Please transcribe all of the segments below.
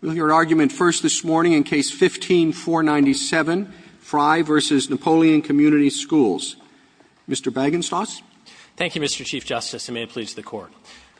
We'll hear argument first this morning in Case No. 15-497, Fry v. Napoleon Community Schools. Mr. Bagenstos. Mr. Bagenstos. Thank you, Mr. Chief Justice, and may it please the Court.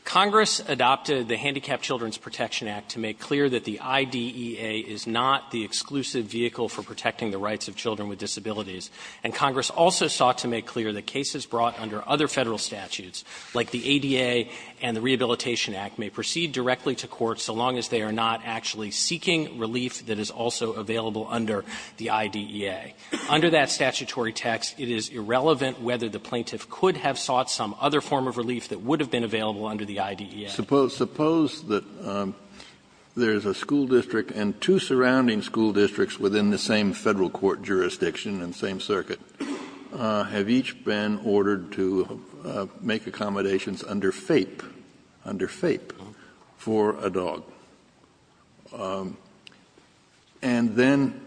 Congress adopted the Handicapped Children's Protection Act to make clear that the IDEA is not the exclusive vehicle for protecting the rights of children with disabilities, and Congress also sought to make clear that cases brought under other Federal statutes like the ADA and the Rehabilitation Act may proceed directly to court so long as they are not actually seeking relief that is also available under the IDEA. Under that statutory text, it is irrelevant whether the plaintiff could have sought some other form of relief that would have been available under the IDEA. Kennedy, suppose that there is a school district and two surrounding school districts within the same Federal court jurisdiction and same circuit have each been ordered to make accommodations under FAPE, under FAPE, for a dog. And then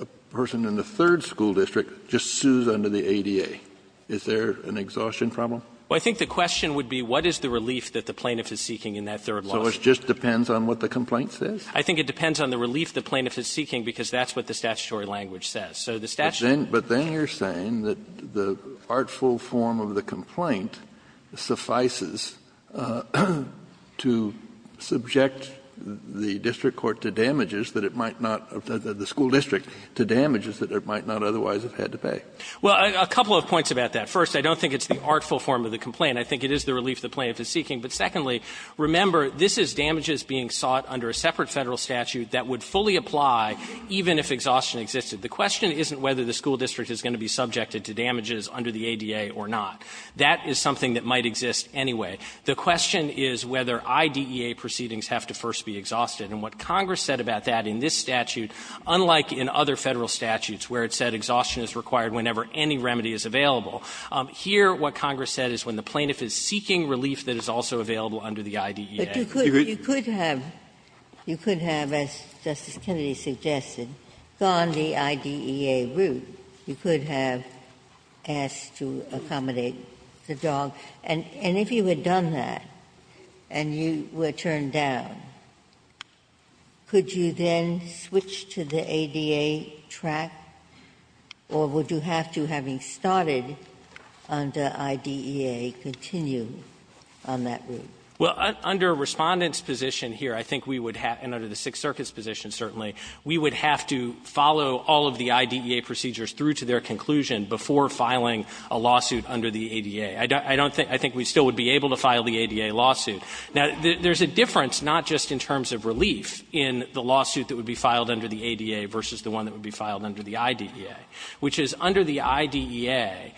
a person in the third school district just sues under the ADA. Is there an exhaustion problem? Well, I think the question would be what is the relief that the plaintiff is seeking in that third lawsuit? So it just depends on what the complaint says? I think it depends on the relief the plaintiff is seeking, because that's what the So the statutory language says that the plaintiff is seeking relief under FAPE. But then you're saying that the artful form of the complaint suffices to subject the district court to damages that it might not, the school district, to damages that it might not otherwise have had to pay. Well, a couple of points about that. First, I don't think it's the artful form of the complaint. I think it is the relief the plaintiff is seeking. But secondly, remember, this is damages being sought under a separate Federal statute that would fully apply even if exhaustion existed. The question isn't whether the school district is going to be subjected to damages under the ADA or not. That is something that might exist anyway. The question is whether IDEA proceedings have to first be exhausted. And what Congress said about that in this statute, unlike in other Federal statutes where it said exhaustion is required whenever any remedy is available, here what Congress said is when the plaintiff is seeking relief that is also available under the IDEA. Ginsburg. You could have, as Justice Kennedy suggested, gone the IDEA route. You could have asked to accommodate the dog. And if you had done that and you were turned down, could you then switch to the ADA track, or would you have to, having started under IDEA, continue on that route? Well, under Respondent's position here, I think we would have, and under the Sixth Circuit's position certainly, we would have to follow all of the IDEA procedures through to their conclusion before filing a lawsuit under the ADA. I don't think we still would be able to file the ADA lawsuit. Now, there is a difference not just in terms of relief in the lawsuit that would be filed under the ADA versus the one that would be filed under the IDEA, which is under the IDEA,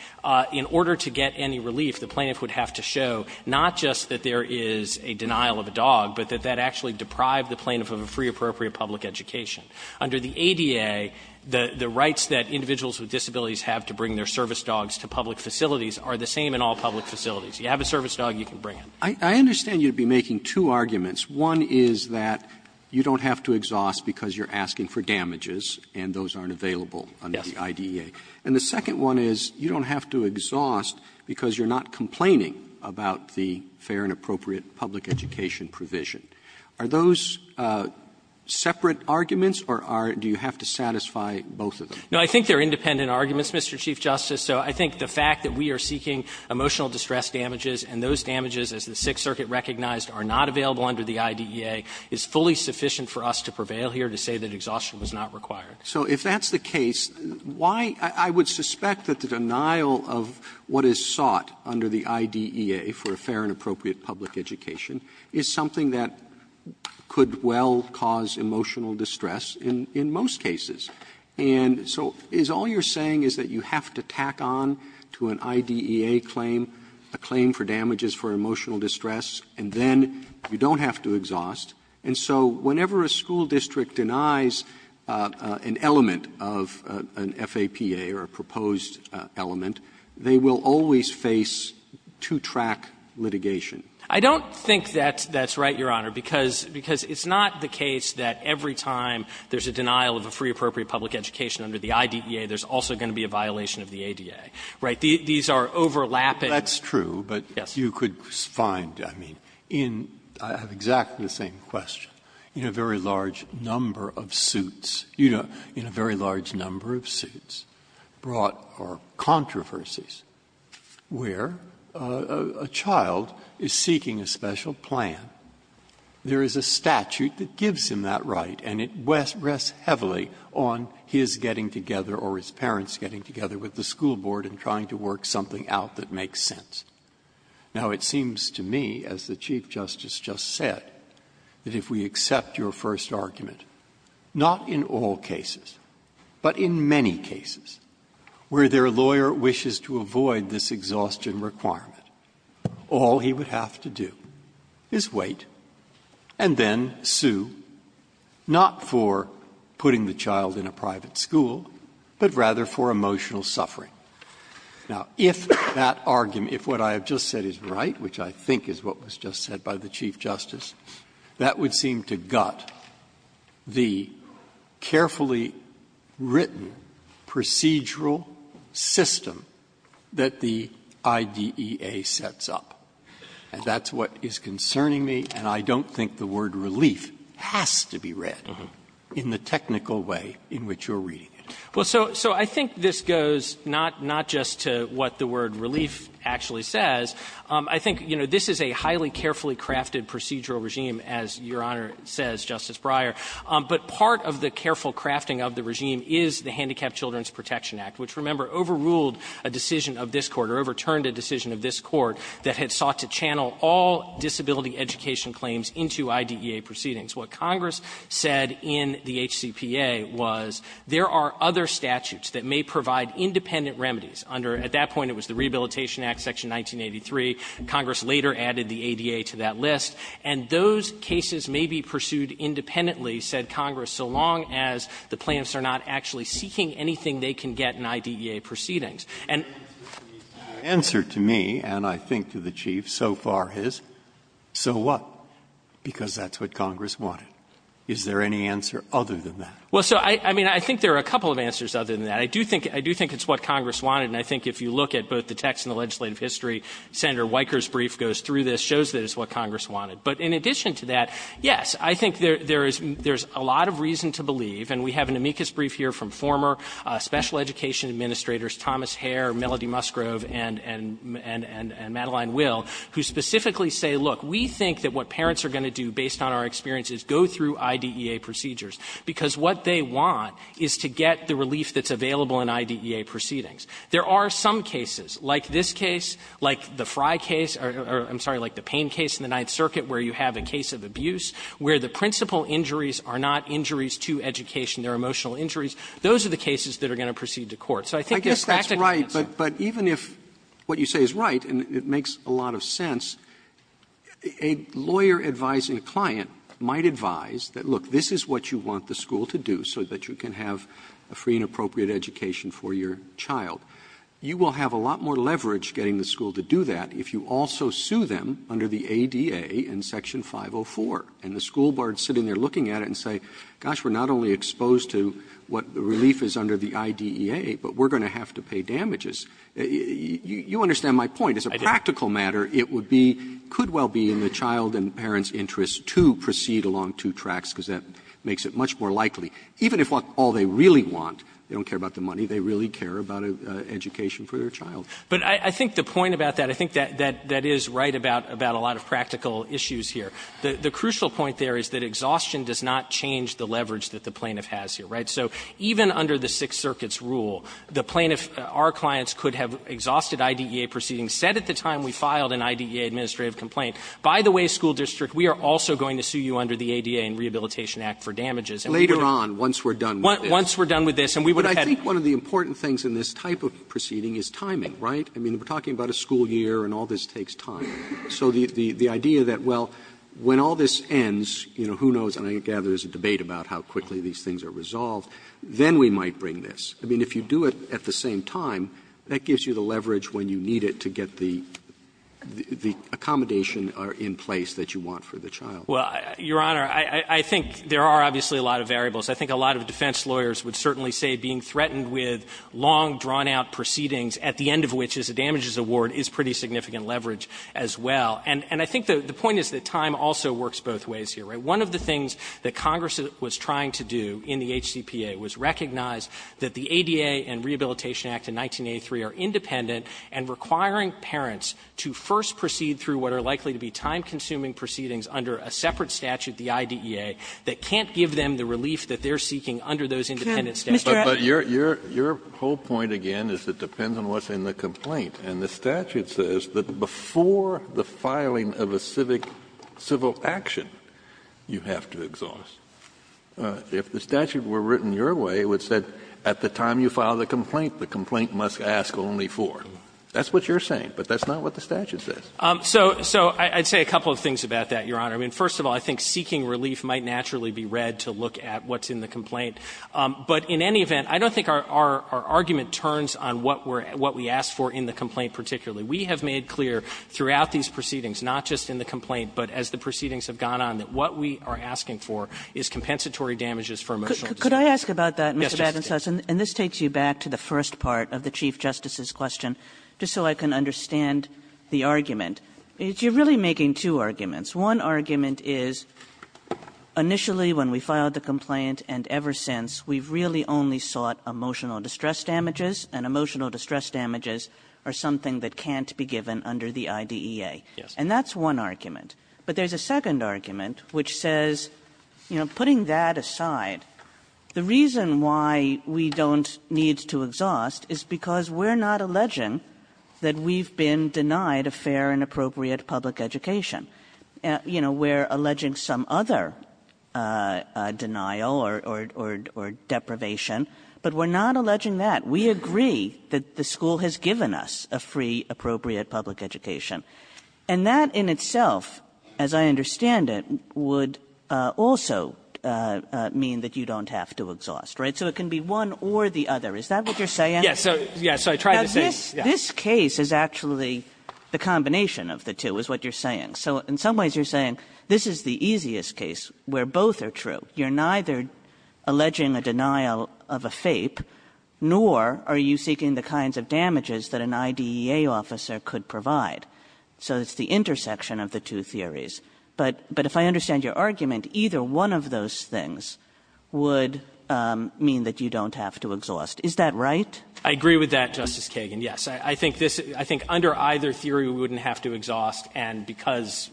in order to get any relief, the plaintiff would have to show not just that there is a denial of a dog, but that that actually deprived the plaintiff of a free, appropriate public education. Under the ADA, the rights that individuals with disabilities have to bring their service dogs to public facilities are the same in all public facilities. You have a service dog, you can bring it. Roberts, I understand you would be making two arguments. One is that you don't have to exhaust because you're asking for damages, and those aren't available under the IDEA. And the second one is you don't have to exhaust because you're not complaining about the fair and appropriate public education provision. Are those separate arguments, or are do you have to satisfy both of them? No, I think they're independent arguments, Mr. Chief Justice. So I think the fact that we are seeking emotional distress damages, and those damages as the Sixth Circuit recognized are not available under the IDEA, is fully sufficient for us to prevail here to say that exhaustion was not required. Roberts, so if that's the case, why — I would suspect that the denial of what is sought under the IDEA for a fair and appropriate public education is something that could well cause emotional distress in most cases. And so is all you're saying is that you have to tack on to an IDEA claim a claim for damages for emotional distress, and then you don't have to exhaust. And so whenever a school district denies an element of an FAPA or a proposed element, they will always face two-track litigation. I don't think that that's right, Your Honor, because it's not the case that every time there's a denial of a free, appropriate public education under the IDEA, there's also going to be a violation of the ADA, right? These are overlapping. Breyer. That's true, but you could find, I mean, in — I have exactly the same question — in a very large number of suits, you know, in a very large number of suits, brought are controversies where a child is seeking a special plan, there is a statute that gives him that right, and it rests heavily on his getting together or his parents getting together with the school board and trying to work something out that makes sense. Now, it seems to me, as the Chief Justice just said, that if we accept your first argument, not in all cases, but in many cases, where their lawyer wishes to avoid this exhaustion requirement, all he would have to do is wait and then sue the school board to sue, not for putting the child in a private school, but rather for emotional suffering. Now, if that argument, if what I have just said is right, which I think is what was just said by the Chief Justice, that would seem to gut the carefully written procedural system that the IDEA sets up. And that's what is concerning me, and I don't think the word relief has to be read in the technical way in which you're reading it. Well, so I think this goes not just to what the word relief actually says. I think, you know, this is a highly carefully crafted procedural regime, as Your Honor says, Justice Breyer. But part of the careful crafting of the regime is the Handicapped Children's Protection Act, which, remember, overruled a decision of this Court or overturned a decision of this Court that had sought to channel all disability education claims into IDEA proceedings. What Congress said in the HCPA was, there are other statutes that may provide independent remedies under at that point, it was the Rehabilitation Act, Section 1983. Congress later added the ADA to that list. And those cases may be pursued independently, said Congress, so long as the plaintiffs are not actually seeking anything they can get in IDEA proceedings. And the answer to me, and I think to the Chief, so far, is so what? Because that's what Congress wanted. Is there any answer other than that? Well, so, I mean, I think there are a couple of answers other than that. I do think it's what Congress wanted, and I think if you look at both the text and the legislative history, Senator Weicker's brief goes through this, shows that it's what Congress wanted. But in addition to that, yes, I think there is a lot of reason to believe, and we have education administrators, Thomas Hare, Melody Musgrove, and Madeline Will, who specifically say, look, we think that what parents are going to do, based on our experiences, go through IDEA procedures, because what they want is to get the relief that's available in IDEA proceedings. There are some cases, like this case, like the Fry case, or I'm sorry, like the Payne case in the Ninth Circuit, where you have a case of abuse, where the principal injuries are not injuries to education, they're emotional injuries, those are the ones that get sued to court. So I think there's practical answers. Roberts' I guess that's right, but even if what you say is right, and it makes a lot of sense, a lawyer advising a client might advise that, look, this is what you want the school to do so that you can have a free and appropriate education for your child. You will have a lot more leverage getting the school to do that if you also sue them under the ADA in Section 504, and the school boards sit in there looking at it and say, gosh, we're not only exposed to what the relief is under the IDEA, but we're going to have to pay damages. You understand my point. As a practical matter, it would be, could well be, in the child and parent's interest to proceed along two tracks, because that makes it much more likely, even if all they really want, they don't care about the money, they really care about an education for their child. But I think the point about that, I think that is right about a lot of practical issues here. The crucial point there is that exhaustion does not change the leverage that the plaintiff has here, right? So even under the Sixth Circuit's rule, the plaintiff, our clients could have exhausted IDEA proceedings, said at the time we filed an IDEA administrative complaint, by the way, school district, we are also going to sue you under the ADA and Rehabilitation And we would have had to do that. Roberts, later on, once we're done with this. Once we're done with this, and we would have had to do that. But I think one of the important things in this type of proceeding is timing, right? I mean, we're talking about a school year, and all this takes time. So the idea that, well, when all this ends, you know, who knows, and I gather there's a debate about how quickly these things are resolved, then we might bring this. I mean, if you do it at the same time, that gives you the leverage when you need it to get the accommodation in place that you want for the child. Well, Your Honor, I think there are obviously a lot of variables. I think a lot of defense lawyers would certainly say being threatened with long, drawn-out proceedings, at the end of which is a damages award, is pretty significant leverage as well. And I think the point is that time also works both ways here, right? One of the things that Congress was trying to do in the HCPA was recognize that the ADA and Rehabilitation Act of 1983 are independent and requiring parents to first proceed through what are likely to be time-consuming proceedings under a separate statute, the IDEA, that can't give them the relief that they're seeking under those independent statutes. But your whole point, again, is it depends on what's in the complaint. And the statute says that before the filing of a civic civil action, you have to exhaust. If the statute were written your way, it would say at the time you file the complaint, the complaint must ask only for. That's what you're saying, but that's not what the statute says. So I'd say a couple of things about that, Your Honor. I mean, first of all, I think seeking relief might naturally be read to look at what's in the complaint. But in any event, I don't think our argument turns on what we're at what we asked for in the complaint particularly. We have made clear throughout these proceedings, not just in the complaint, but as the proceedings have gone on, that what we are asking for is compensatory damages for emotional distress. Kagan. And this takes you back to the first part of the Chief Justice's question, just so I can understand the argument. You're really making two arguments. One argument is initially when we filed the complaint and ever since, we've really only sought emotional distress damages, and emotional distress damages are something that can't be given under the IDEA. And that's one argument. But there's a second argument, which says, you know, putting that aside, the reason why we don't need to exhaust is because we're not alleging that we've been denied a fair and appropriate public education. You know, we're alleging some other denial or deprivation, but we're not alleging that. We agree that the school has given us a free, appropriate public education. And that in itself, as I understand it, would also mean that you don't have to exhaust, right? So it can be one or the other. Is that what you're saying? Waxman. Yes. So, yes, I tried to say, yes. Kagan. This case is actually the combination of the two, is what you're saying. So in some ways, you're saying this is the easiest case where both are true. You're neither alleging a denial of a FAPE, nor are you seeking the kinds of damages that an IDEA officer could provide. So it's the intersection of the two theories. But if I understand your argument, either one of those things would mean that you don't have to exhaust. Is that right? I agree with that, Justice Kagan, yes. I think this — I think under either theory, we wouldn't have to exhaust, and because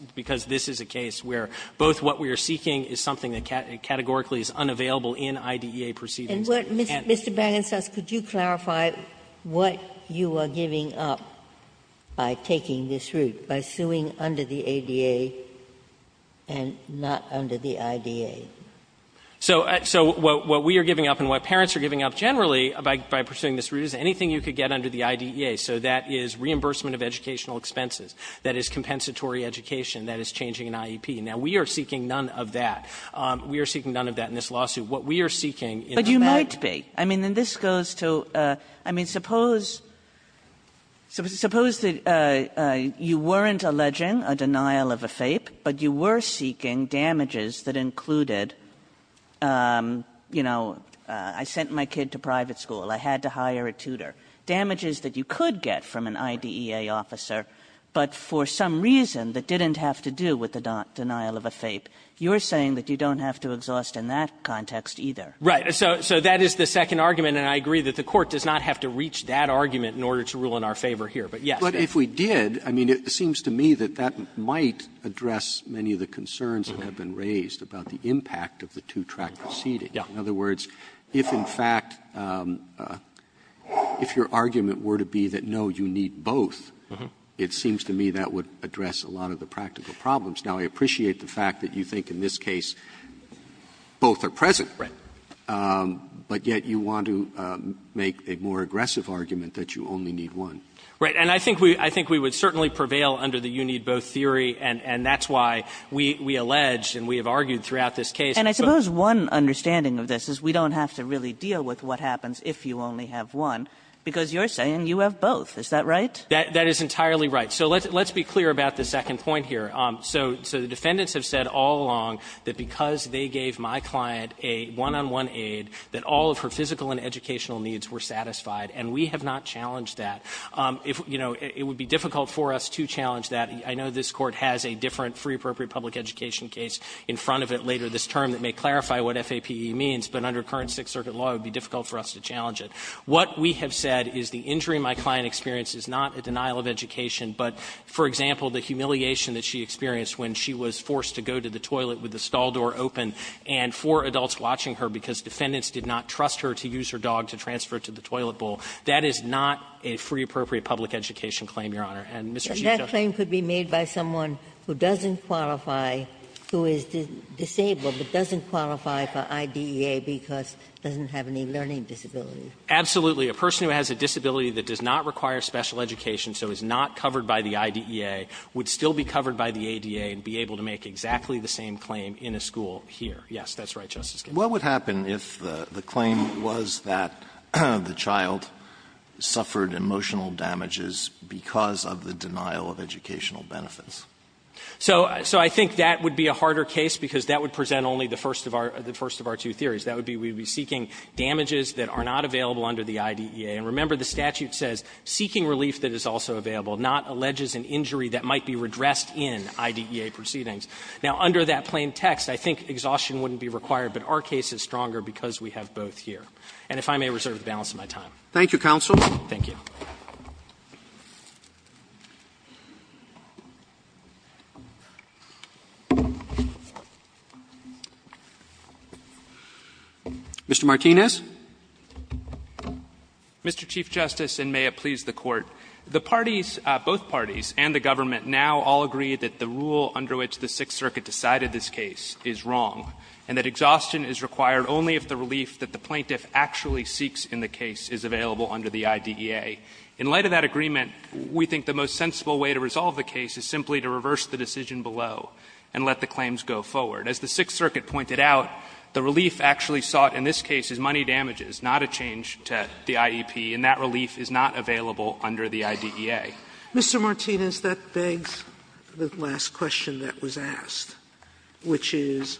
this is a case where both what we are seeking is something that categorically is unavailable in IDEA proceedings. And what Mr. Bannon says, could you clarify what you are giving up by taking this route, by suing under the ADA and not under the IDEA? So what we are giving up and what parents are giving up generally by pursuing this route is anything you could get under the IDEA, so that is reimbursement of educational expenses, that is compensatory education, that is changing an IEP. Now, we are seeking none of that. We are seeking none of that in this lawsuit. What we are seeking in that case… Kagan. But you might be. I mean, and this goes to — I mean, suppose — suppose that you weren't alleging a denial of a FAPE, but you were seeking damages that included, you know, I sent my kid to private school. I had to hire a tutor, damages that you could get from an IDEA officer, but for some reason that didn't have to do with the denial of a FAPE, you are saying that you don't have to exhaust in that context either. Right. So that is the second argument, and I agree that the Court does not have to reach that argument in order to rule in our favor here. But yes. But if we did, I mean, it seems to me that that might address many of the concerns that have been raised about the impact of the two-track proceeding. Yeah. In other words, if, in fact, if your argument were to be that, no, you need both, it seems to me that would address a lot of the practical problems. Now, I appreciate the fact that you think in this case both are present. Right. But yet you want to make a more aggressive argument that you only need one. Right. And I think we would certainly prevail under the you-need-both theory, and that's why we allege and we have argued throughout this case. And I suppose one understanding of this is we don't have to really deal with what happens if you only have one, because you're saying you have both. Is that right? That is entirely right. So let's be clear about the second point here. So the defendants have said all along that because they gave my client a one-on-one aid, that all of her physical and educational needs were satisfied, and we have not challenged that. If, you know, it would be difficult for us to challenge that. I know this Court has a different free appropriate public education case in front of it later this term that may clarify what FAPE means, but under current Sixth Circuit law, it would be difficult for us to challenge it. What we have said is the injury my client experienced is not a denial of education, but, for example, the humiliation that she experienced when she was forced to go to the toilet with the stall door open and four adults watching her because defendants did not trust her to use her dog to transfer it to the toilet bowl. That is not a free appropriate public education claim, Your Honor. And Mr. Chief Justice. Ginsburg's claim could be made by someone who doesn't qualify, who is disabled, but doesn't qualify for IDEA because doesn't have any learning disability. Absolutely. A person who has a disability that does not require special education, so is not covered by the IDEA, would still be covered by the ADA and be able to make exactly the same claim in a school here. Yes, that's right, Justice Kennedy. Alito What would happen if the claim was that the child suffered emotional damages because of the denial of educational benefits? So I think that would be a harder case because that would present only the first of our two theories. That would be we would be seeking damages that are not available under the IDEA. And remember, the statute says, seeking relief that is also available, not alleges an injury that might be redressed in IDEA proceedings. Now, under that plain text, I think exhaustion wouldn't be required, but our case is stronger because we have both here. And if I may reserve the balance of my time. Robertson Thank you, counsel. Thank you. Mr. Martinez. Martinez Mr. Chief Justice, and may it please the Court. The parties, both parties and the government now all agree that the rule under which the Sixth Circuit decided this case is wrong, and that exhaustion is required only if the relief that the plaintiff actually seeks in the case is available under the IDEA. In light of that agreement, we think the most sensible way to resolve the case is simply to reverse the decision below and let the claims go forward. As the Sixth Circuit pointed out, the relief actually sought in this case is money damages, not a change to the IEP, and that relief is not available under the IDEA. Sotomayor Mr. Martinez, that begs the last question that was asked, which is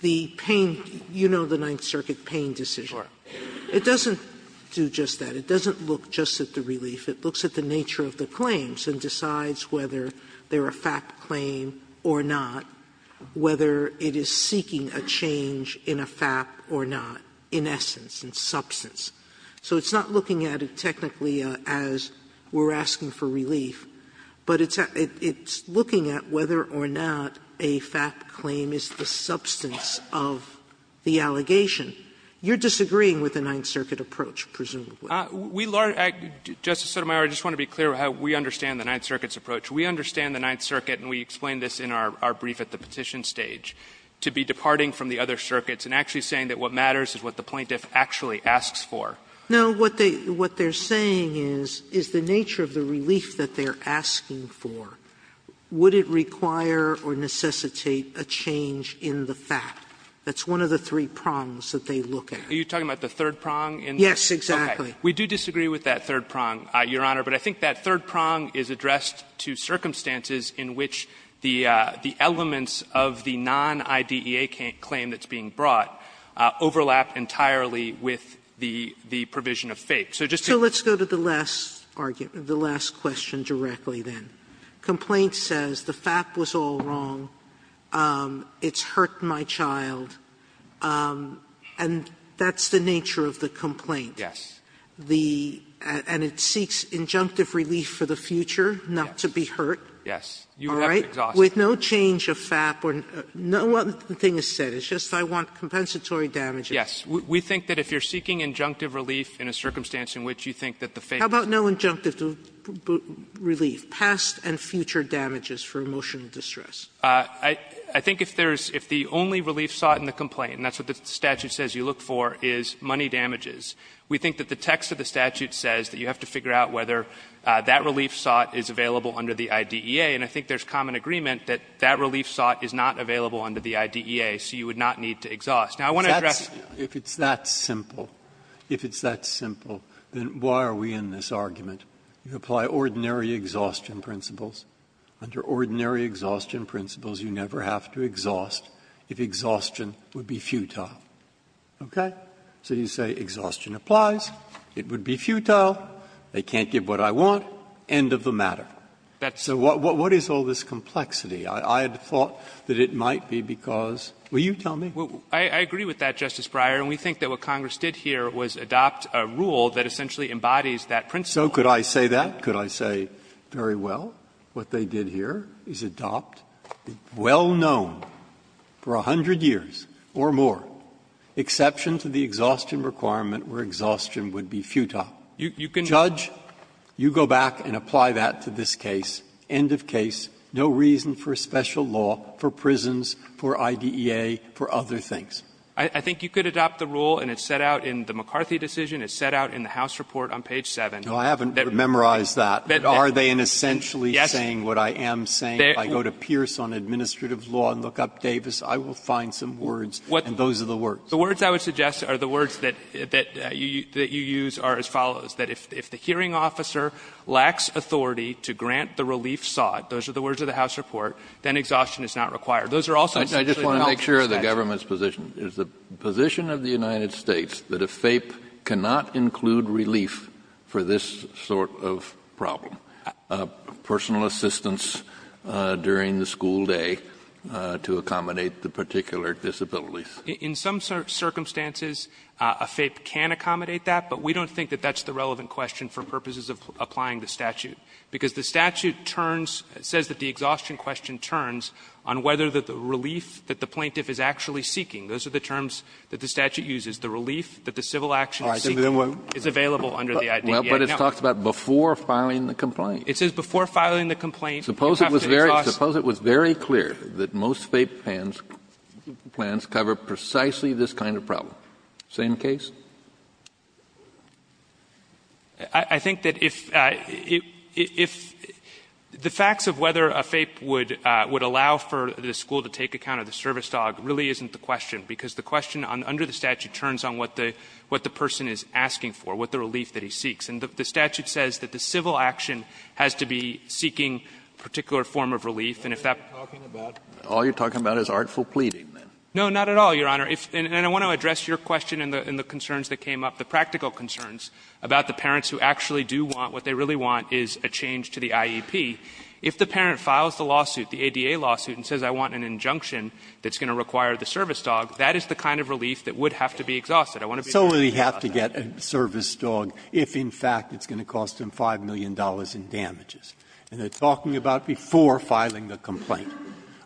the pain you know the Ninth Circuit pain decision. It doesn't do just that. It doesn't look just at the relief. It looks at the nature of the claims and decides whether they are a FAP claim or not, whether it is seeking a change in a FAP or not, in essence, in substance. So it's not looking at it technically as we're asking for relief, but it's looking at whether or not a FAP claim is the substance of the allegation. You're disagreeing with the Ninth Circuit approach, presumably. Martinez, we learned at Justice Sotomayor, I just want to be clear how we understand the Ninth Circuit's approach. We understand the Ninth Circuit, and we explained this in our brief at the petition stage, to be departing from the other circuits and actually saying that what matters is what the plaintiff actually asks for. Sotomayor No, what they're saying is the nature of the relief that they're asking for, would it require or necessitate a change in the FAP? That's one of the three prongs that they look at. Martinez, are you talking about the third prong in this? Sotomayor Yes, exactly. Martinez, okay. We do disagree with that third prong, Your Honor, but I think that third prong is addressed to circumstances in which the elements of the non-IDEA claim that's being brought up overlap entirely with the provision of FAP. So just to go to the last argument, the last question directly, then. Complaint says the FAP was all wrong, it's hurt my child, and that's the nature of the complaint. Martinez, yes. Sotomayor And it seeks injunctive relief for the future, not to be hurt. Martinez, yes. You would have to exhaust it. Sotomayor All right. Sotomayor With no change of FAP or no other thing is said, it's just I want compensatory damages. Martinez, yes. We think that if you're seeking injunctive relief in a circumstance in which you think that the FAP is wrong. Sotomayor How about no injunctive relief, past and future damages for emotional distress? Martinez, I think if there's the only relief sought in the complaint, and that's what the statute says you look for, is money damages, we think that the text of the statute says that you have to figure out whether that relief sought is available under the IDEA. And I think there's common agreement that that relief sought is not available under the IDEA, so you would not need to exhaust. Now, I want to address. Breyer If it's that simple, if it's that simple, then why are we in this argument? You apply ordinary exhaustion principles. Under ordinary exhaustion principles, you never have to exhaust if exhaustion would be futile. Okay? So you say exhaustion applies, it would be futile, they can't give what I want, end of the matter. So what is all this complexity? I had thought that it might be because – will you tell me? Martinez, I agree with that, Justice Breyer, and we think that what Congress did here was adopt a rule that essentially embodies that principle. Breyer So could I say that? Could I say, very well, what they did here is adopt the well-known for a hundred years or more exception to the exhaustion requirement where exhaustion would be futile. Judge, you go back and apply that to this case. End of case. No reason for special law for prisons, for IDEA, for other things. Martinez I think you could adopt the rule and it's set out in the McCarthy decision, it's set out in the House report on page 7. Breyer No, I haven't memorized that. Are they in essentially saying what I am saying? If I go to Pierce on administrative law and look up Davis, I will find some words and those are the words. Martinez The words I would suggest are the words that you use are as follows. That if the hearing officer lacks authority to grant the relief sought, those are the words of the House report, then exhaustion is not required. Those are also essentially the health inspection. Kennedy I just want to make sure of the government's position. Is the position of the United States that a FAPE cannot include relief for this sort of problem? Personal assistance during the school day to accommodate the particular disabilities? Martinez In some circumstances, a FAPE can accommodate that, but we don't think that that's the relevant question for purposes of applying the statute, because the statute turns, says that the exhaustion question turns on whether the relief that the plaintiff is actually seeking. Those are the terms that the statute uses. The relief that the civil action is seeking is available under the IDEA. Kennedy But it talks about before filing the complaint. Martinez It says before filing the complaint, you have to exhaust. Kennedy Suppose it was very clear that most FAPE plans cover precisely this kind of problem. Same case? Martinez I think that if the facts of whether a FAPE would allow for the school to take account of the service dog really isn't the question, because the question under the statute turns on what the person is asking for, what the relief that he seeks. And the statute says that the civil action has to be seeking a particular form of relief. And if that's what you're talking about, all you're talking about is artful pleading. Martinez No, not at all, Your Honor. And I want to address your question and the concerns that came up, the practical concerns about the parents who actually do want what they really want is a change to the IEP. If the parent files the lawsuit, the ADA lawsuit, and says I want an injunction that's going to require the service dog, that is the kind of relief that would have to be exhausted. Breyer So they have to get a service dog if, in fact, it's going to cost them $5 million in damages. And they're talking about before filing the complaint.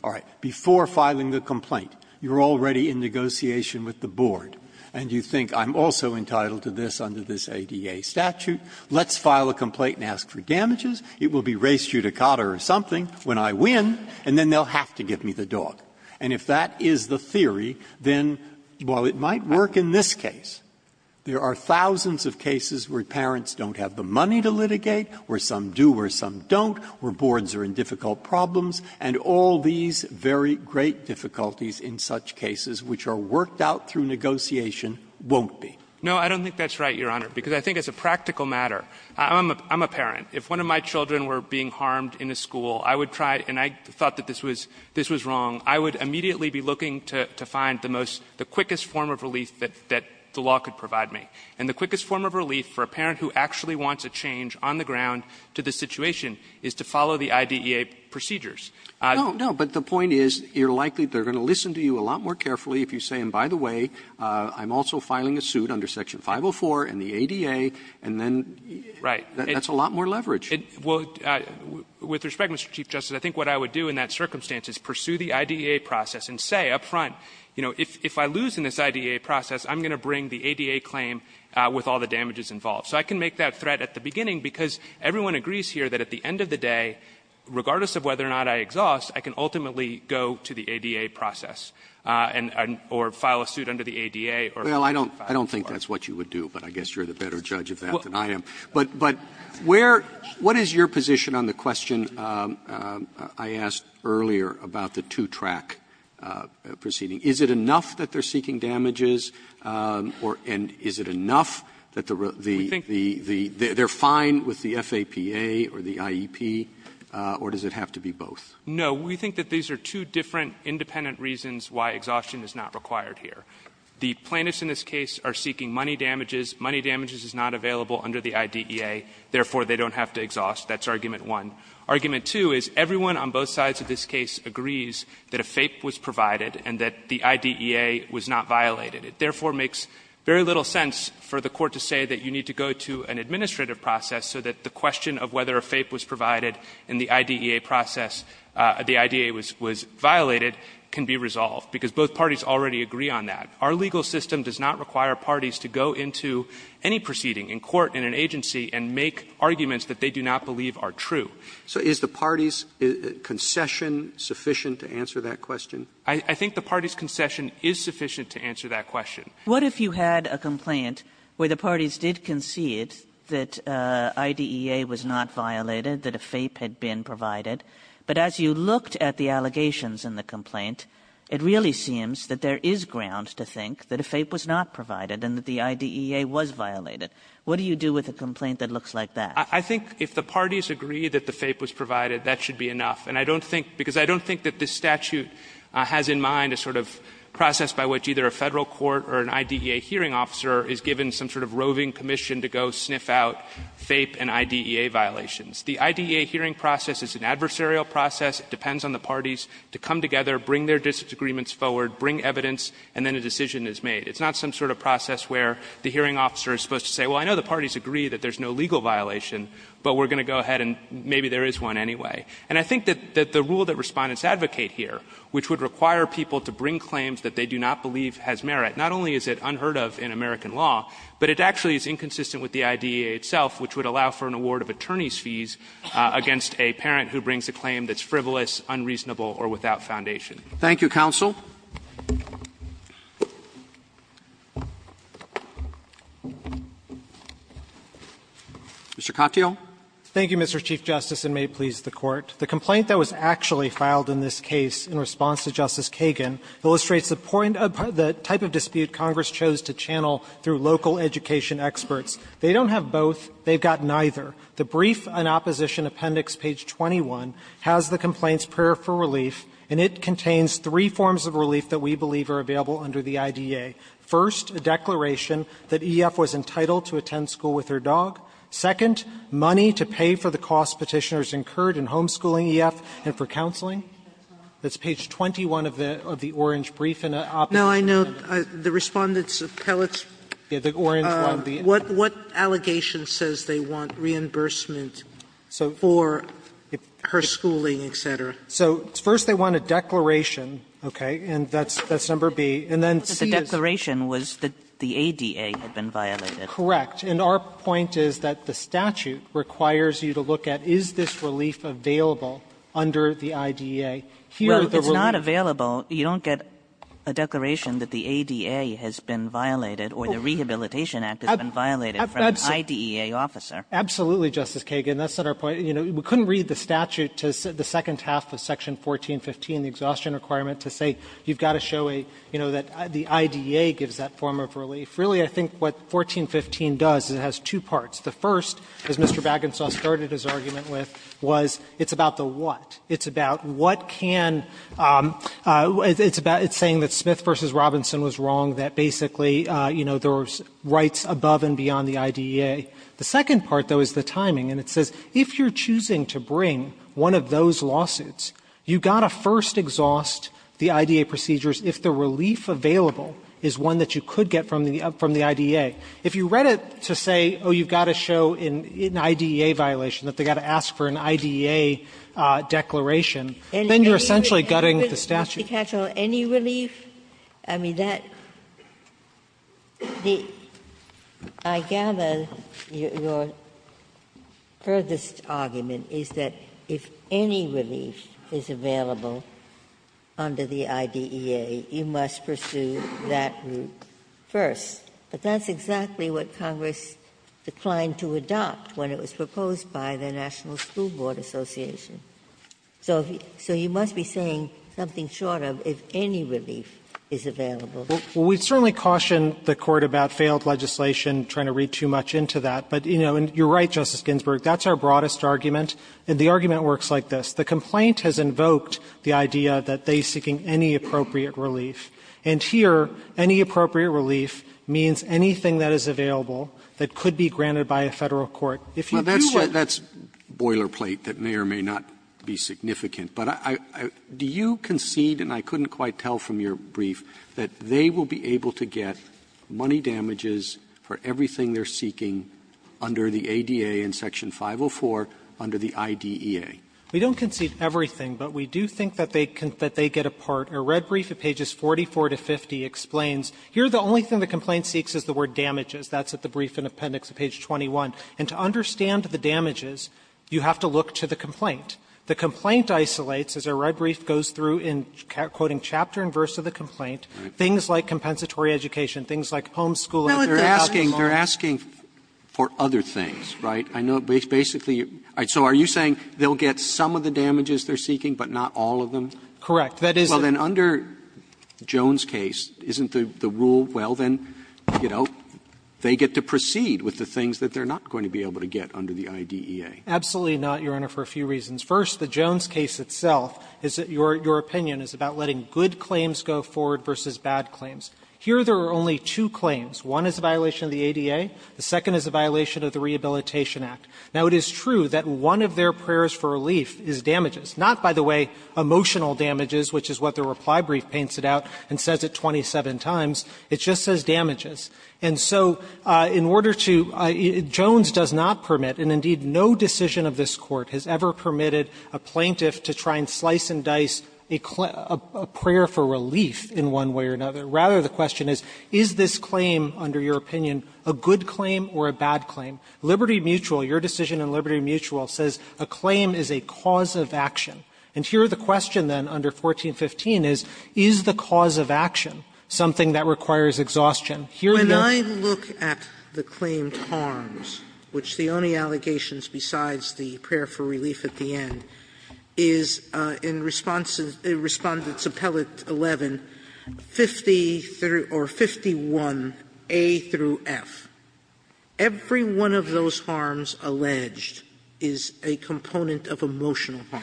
All right. Before filing the complaint, you're already in negotiation with the board, and you think I'm also entitled to this under this ADA statute, let's file a complaint and ask for damages, it will be res judicata or something when I win, and then they'll have to give me the dog. And if that is the theory, then while it might work in this case, there are thousands of cases where parents don't have the money to litigate, where some do, where some don't, where boards are in difficult problems, and all these very great difficulties in such cases which are worked out through negotiation won't be. Martinez No, I don't think that's right, Your Honor, because I think as a practical matter. I'm a parent. If one of my children were being harmed in a school, I would try, and I thought that this was wrong, I would immediately be looking to find the most, the quickest form of relief that the law could provide me. And the quickest form of relief for a parent who actually wants a change on the ground to the situation is to follow the IDEA procedures. Roberts No, but the point is, you're likely, they're going to listen to you a lot more carefully if you say, and by the way, I'm also filing a suit under Section 504 and the ADA, and then that's a lot more leverage. Martinez With respect, Mr. Chief Justice, I think what I would do in that circumstance is pursue the IDEA process and say up front, you know, if I lose in this IDEA process, I'm going to bring the ADA claim with all the damages involved. So I can make that threat at the beginning because everyone agrees here that at the end of the day, regardless of whether or not I exhaust, I can ultimately go to the ADA process and or file a suit under the ADA or Section 504. Roberts Well, I don't think that's what you would do, but I guess you're the better judge of that than I am. But where — what is your position on the question I asked earlier about the two-track proceeding? Is it enough that they're seeking damages, or — and is it enough that the — Martinez We think — Roberts They're fine with the FAPA or the IEP, or does it have to be both? Martinez No, we think that these are two different independent reasons why exhaustion is not required here. The plaintiffs in this case are seeking money damages. Money damages is not available under the IDEA. Therefore, they don't have to exhaust. That's argument one. Argument two is everyone on both sides of this case agrees that a FAPE was provided and that the IDEA was not violated. It therefore makes very little sense for the Court to say that you need to go to an administrative process so that the question of whether a FAPE was provided and the IDEA process — the IDEA was violated can be resolved, because both parties already agree on that. Our legal system does not require parties to go into any proceeding in court in an agency and make arguments that they do not believe are true. Roberts So is the parties' concession sufficient to answer that question? Martinez I think the parties' concession is sufficient to answer that question. Kagan What if you had a complaint where the parties did concede that IDEA was not violated, that a FAPE had been provided, but as you looked at the allegations in the complaint, it really seems that there is ground to think that a FAPE was not provided and that the IDEA was violated. What do you do with a complaint that looks like that? Martinez I think if the parties agree that the FAPE was provided, that should be enough. And I don't think — because I don't think that this statute has in mind a sort of process by which either a Federal court or an IDEA hearing officer is given some sort of roving commission to go sniff out FAPE and IDEA violations. The IDEA hearing process is an adversarial process. It depends on the parties to come together, bring their disagreements forward, bring evidence, and then a decision is made. It's not some sort of process where the hearing officer is supposed to say, well, I know the parties agree that there's no legal violation, but we're going to go ahead and maybe there is one anyway. And I think that the rule that Respondents advocate here, which would require people to bring claims that they do not believe has merit, not only is it unheard of in American law, but it actually is inconsistent with the IDEA itself, which would allow for an award of attorney's fees against a parent who brings a claim that's frivolous, unreasonable, or without foundation. Roberts. Thank you, counsel. Mr. Katyal. Katyal. Thank you, Mr. Chief Justice, and may it please the Court. The complaint that was actually filed in this case in response to Justice Kagan illustrates the point of the type of dispute Congress chose to channel through local education experts. They don't have both. They've got neither. The brief and opposition appendix, page 21, has the complaint's prayer for relief, and it contains three forms of relief that we believe are available under the IDEA. First, a declaration that EF was entitled to attend school with her dog. Second, money to pay for the costs Petitioners incurred in homeschooling EF and for counseling. Sotomayor. Sotomayor, I know the Respondent's appellate, what allegation says they want reimbursement for her schooling, et cetera? So first they want a declaration, okay, and that's number B, and then C is? But the declaration was that the ADA had been violated. Correct. And our point is that the statute requires you to look at is this relief available under the IDEA. Here, the relief is not available. You don't get a declaration that the ADA has been violated or the Rehabilitation Act has been violated from an IDEA officer. Absolutely, Justice Kagan. That's not our point. You know, we couldn't read the statute to the second half of section 1415, the exhaustion requirement, to say you've got to show a, you know, that the IDEA gives that form of relief. Really, I think what 1415 does is it has two parts. The first, as Mr. Bagenstos started his argument with, was it's about the what. It's about what can — it's about — it's saying that Smith v. Robinson was wrong, that basically, you know, there was rights above and beyond the IDEA. The second part, though, is the timing, and it says if you're choosing to bring one of those lawsuits, you've got to first exhaust the IDEA procedures if the relief available is one that you could get from the IDEA. If you read it to say, oh, you've got to show an IDEA violation, that they've got to ask for an IDEA declaration, then you're essentially gutting the statute. Ginsburg. Any relief? I mean, that — I gather your furthest argument is that if any relief is available under the IDEA, you must pursue that route first. But that's exactly what Congress declined to adopt when it was proposed by the National School Board Association. So you must be saying something short of if any relief is available. Well, we certainly caution the Court about failed legislation, trying to read too much into that. But, you know, and you're right, Justice Ginsburg, that's our broadest argument, and the argument works like this. The complaint has invoked the idea that they're seeking any appropriate relief. And here, any appropriate relief means anything that is available that could be granted by a Federal court. If you do what you say to them, they're going to do it, and they're going to do it. Roberts Well, that's boilerplate that may or may not be significant. But I — do you concede, and I couldn't quite tell from your brief, that they will be able to get money damages for everything they're seeking under the ADA in Section 504 under the IDEA? We don't concede everything, but we do think that they can — that they get a part. And I think that's a good point, Justice Sotomayor, because Section 504 to 50 explains here the only thing the complaint seeks is the word damages. That's at the brief in Appendix Page 21. And to understand the damages, you have to look to the complaint. The complaint isolates, as our brief goes through in quoting chapter and verse of the complaint, things like compensatory education, things like homeschooling. Roberts They're asking for other things, right? I know basically you're — so are you saying they'll get some of the damages they're seeking but not all of them? Correct. That is the — Well, then, under Jones' case, isn't the rule, well, then, you know, they get to proceed with the things that they're not going to be able to get under the IDEA? Absolutely not, Your Honor, for a few reasons. First, the Jones case itself is that your opinion is about letting good claims go forward versus bad claims. Here there are only two claims. One is a violation of the ADA. The second is a violation of the Rehabilitation Act. Now, it is true that one of their prayers for relief is damages, not, by the way, emotional damages, which is what the reply brief paints it out and says it 27 times. It just says damages. And so in order to — Jones does not permit, and indeed no decision of this Court has ever permitted a plaintiff to try and slice and dice a prayer for relief in one way or another. Rather, the question is, is this claim, under your opinion, a good claim or a bad claim? Liberty Mutual, your decision in Liberty Mutual, says a claim is a cause of action. And here the question, then, under 1415 is, is the cause of action something that requires exhaustion? Sotomayor, when I look at the claimed harms, which the only allegations besides the prayer for relief at the end, is in Respondent's Appellate 11, 50 through — or 51A through F, every one of those harms alleged is a component of emotional harm.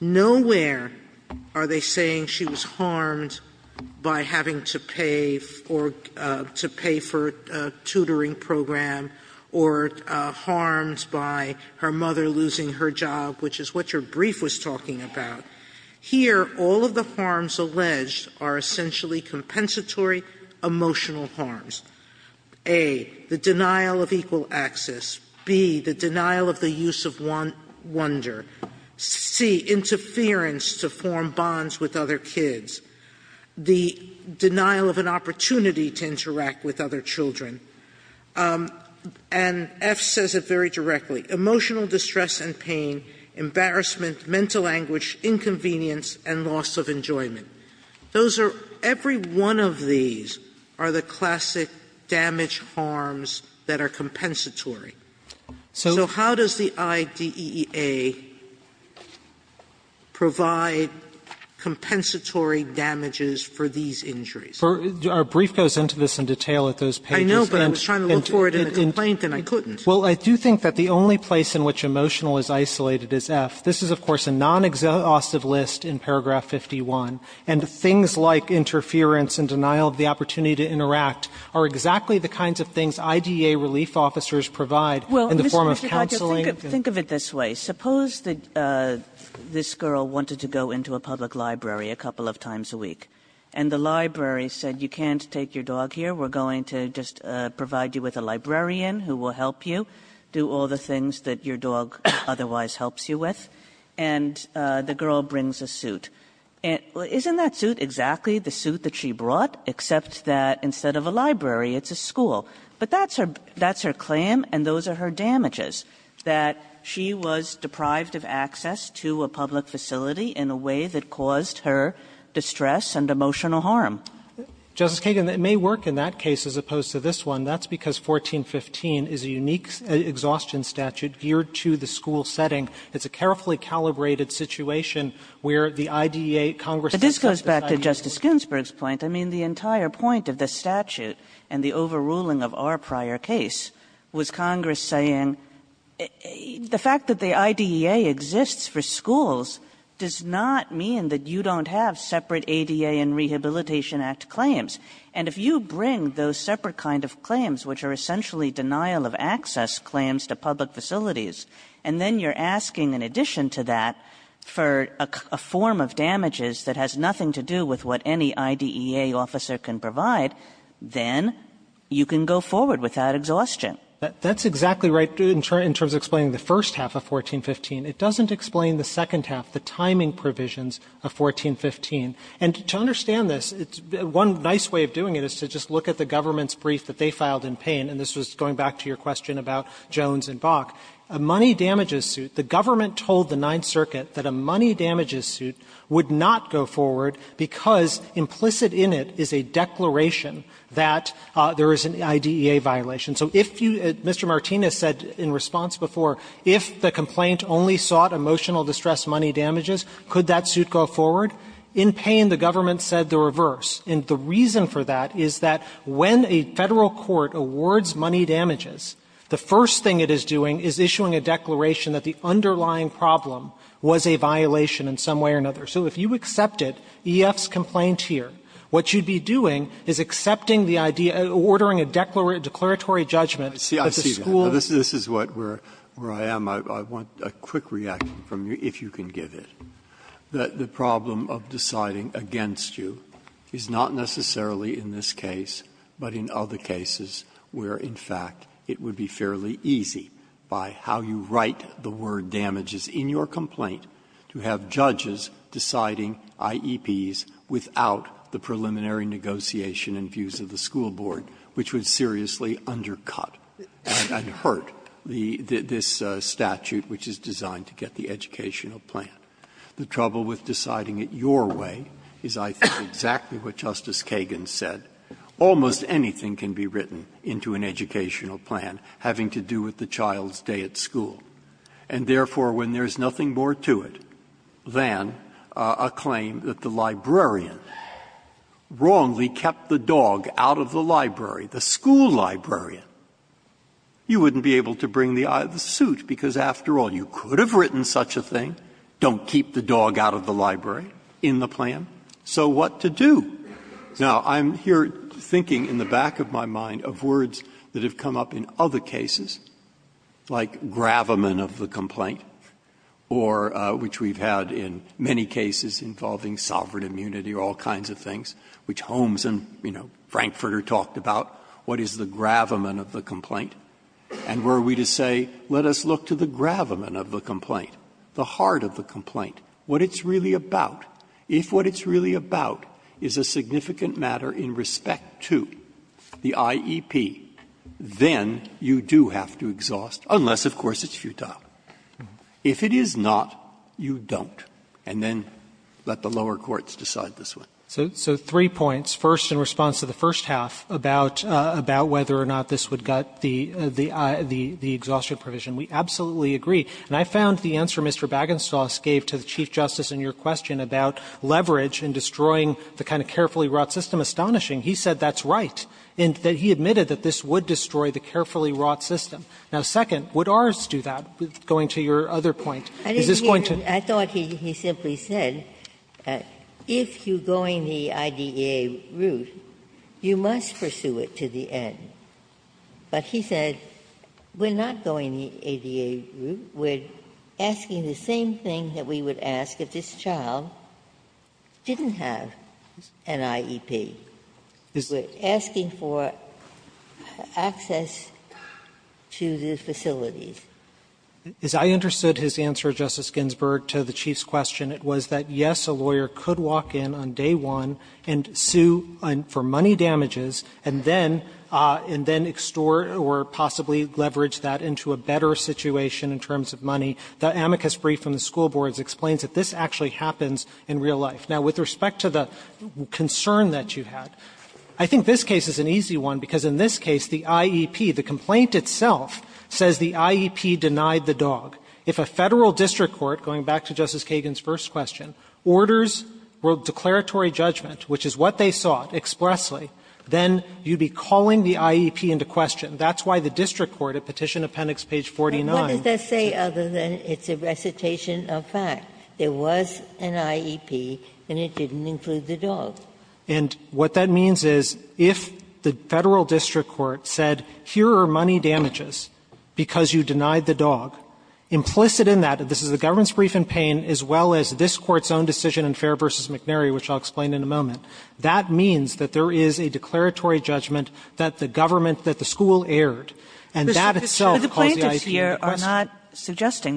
Nowhere are they saying she was harmed by having to pay for — to pay for a tutoring program or harmed by her mother losing her job, which is what your brief was talking about. Here, all of the harms alleged are essentially compensatory emotional harms. A, the denial of equal access. B, the denial of the use of wonder. C, interference to form bonds with other kids. The denial of an opportunity to interact with other children. And F says it very directly. Emotional distress and pain, embarrassment, mental anguish, inconvenience, and loss of enjoyment. Those are — every one of these are the classic damage harms that are compensatory. So how does the IDEA provide compensatory damages for these injuries? Our brief goes into this in detail at those pages. I know, but I was trying to look for it in the complaint and I couldn't. Well, I do think that the only place in which emotional is isolated is F. This is, of course, a non-exhaustive list in paragraph 51. And things like interference and denial of the opportunity to interact are exactly the kinds of things IDEA relief officers provide in the form of counseling. Think of it this way. Suppose that this girl wanted to go into a public library a couple of times a week. And the library said, you can't take your dog here. We're going to just provide you with a librarian who will help you do all the things that your dog otherwise helps you with. And the girl brings a suit. Isn't that suit exactly the suit that she brought, except that instead of a library, it's a school? But that's her — that's her claim, and those are her damages, that she was deprived of access to a public facility in a way that caused her distress and emotional harm. Justice Kagan, it may work in that case as opposed to this one. That's because 1415 is a unique exhaustion statute geared to the school setting. It's a carefully calibrated situation where the IDEA, Congress accepts this idea of exclusion. Kagan But this goes back to Justice Ginsburg's point. I mean, the entire point of the statute and the overruling of our prior case was Congress saying, the fact that the IDEA exists for schools does not mean that you don't have separate ADA and Rehabilitation Act claims. And if you bring those separate kind of claims, which are essentially denial of access claims to public facilities, and then you're asking, in addition to that, for a form of damages that has nothing to do with what any IDEA officer can provide, then you can go forward without exhaustion. That's exactly right in terms of explaining the first half of 1415. It doesn't explain the second half, the timing provisions of 1415. And to understand this, one nice way of doing it is to just look at the government's brief that they filed in Payne, and this was going back to your question about Jones and Bok. A money damages suit, the government told the Ninth Circuit that a money damages suit would not go forward because implicit in it is a declaration that there is an IDEA violation. So if you — Mr. Martinez said in response before, if the complaint only sought emotional distress money damages, could that suit go forward? In Payne, the government said the reverse. And the reason for that is that when a Federal court awards money damages, the first thing it is doing is issuing a declaration that the underlying problem was a violation in some way or another. So if you accept it, EF's complaint here, what you'd be doing is accepting the IDEA, ordering a declaratory judgment that the school of law. Breyer, this is what we're — where I am. I want a quick reaction from you, if you can give it, that the problem of deciding against you is not necessarily in this case, but in other cases where, in fact, it would be fairly easy by how you write the word damages in your complaint to have judges deciding IEPs without the preliminary negotiation and views of the school board, which would seriously undercut and hurt the — this statute which is designed to get the educational plan. The trouble with deciding it your way is, I think, exactly what Justice Kagan said. Almost anything can be written into an educational plan having to do with the child's day at school. And therefore, when there is nothing more to it than a claim that the librarian wrongly kept the dog out of the library, the school librarian, you wouldn't be able to bring the suit, because, after all, you could have written such a thing, don't keep the dog out of the library in the plan. So what to do? Now, I'm here thinking in the back of my mind of words that have come up in other cases, like gravamen of the complaint, or which we've had in many cases involving sovereign immunity or all kinds of things, which Holmes and, you know, Frankfurter talked about. What is the gravamen of the complaint? And were we to say, let us look to the gravamen of the complaint, the heart of the complaint, what it's really about, if what it's really about is a significant matter in respect to the IEP, then you do have to exhaust, unless, of course, it's futile. If it is not, you don't. And then let the lower courts decide this one. So three points, first in response to the first half, about whether or not this would gut the exhaustion provision. We absolutely agree, and I found the answer Mr. Bagenstos gave to the Chief Justice in your question about leverage in destroying the kind of carefully wrought system astonishing. He said that's right, and that he admitted that this would destroy the carefully wrought system. Now, second, would ours do that, going to your other point? Is this going to? Ginsburg. I thought he simply said, if you're going the IDEA route, you must pursue it to the end. But he said, we're not going the IDEA route. We're asking the same thing that we would ask if this child didn't have an IEP. We're asking for access to the facilities. As I understood his answer, Justice Ginsburg, to the Chief's question, it was that, yes, a lawyer could walk in on day one and sue for money damages and then extort or possibly leverage that into a better situation in terms of money. The amicus brief from the school boards explains that this actually happens in real life. Now, with respect to the concern that you had, I think this case is an easy one, because in this case, the IEP, the complaint itself says the IEP denied the dog. If a Federal district court, going back to Justice Kagan's first question, orders declaratory judgment, which is what they sought expressly, then you'd be calling the IEP into question. That's why the district court, at Petition Appendix page 49. Ginsburg. But what does that say other than it's a recitation of fact? There was an IEP, and it didn't include the dog. And what that means is if the Federal district court said, here are money damages because you denied the dog, implicit in that, this is the government's brief in Payne as well as this Court's own decision in Fair v. McNary, which I'll explain in a moment, that means that there is a declaratory judgment that the government, that the school erred, and that itself calls the IEP into question. Kagan.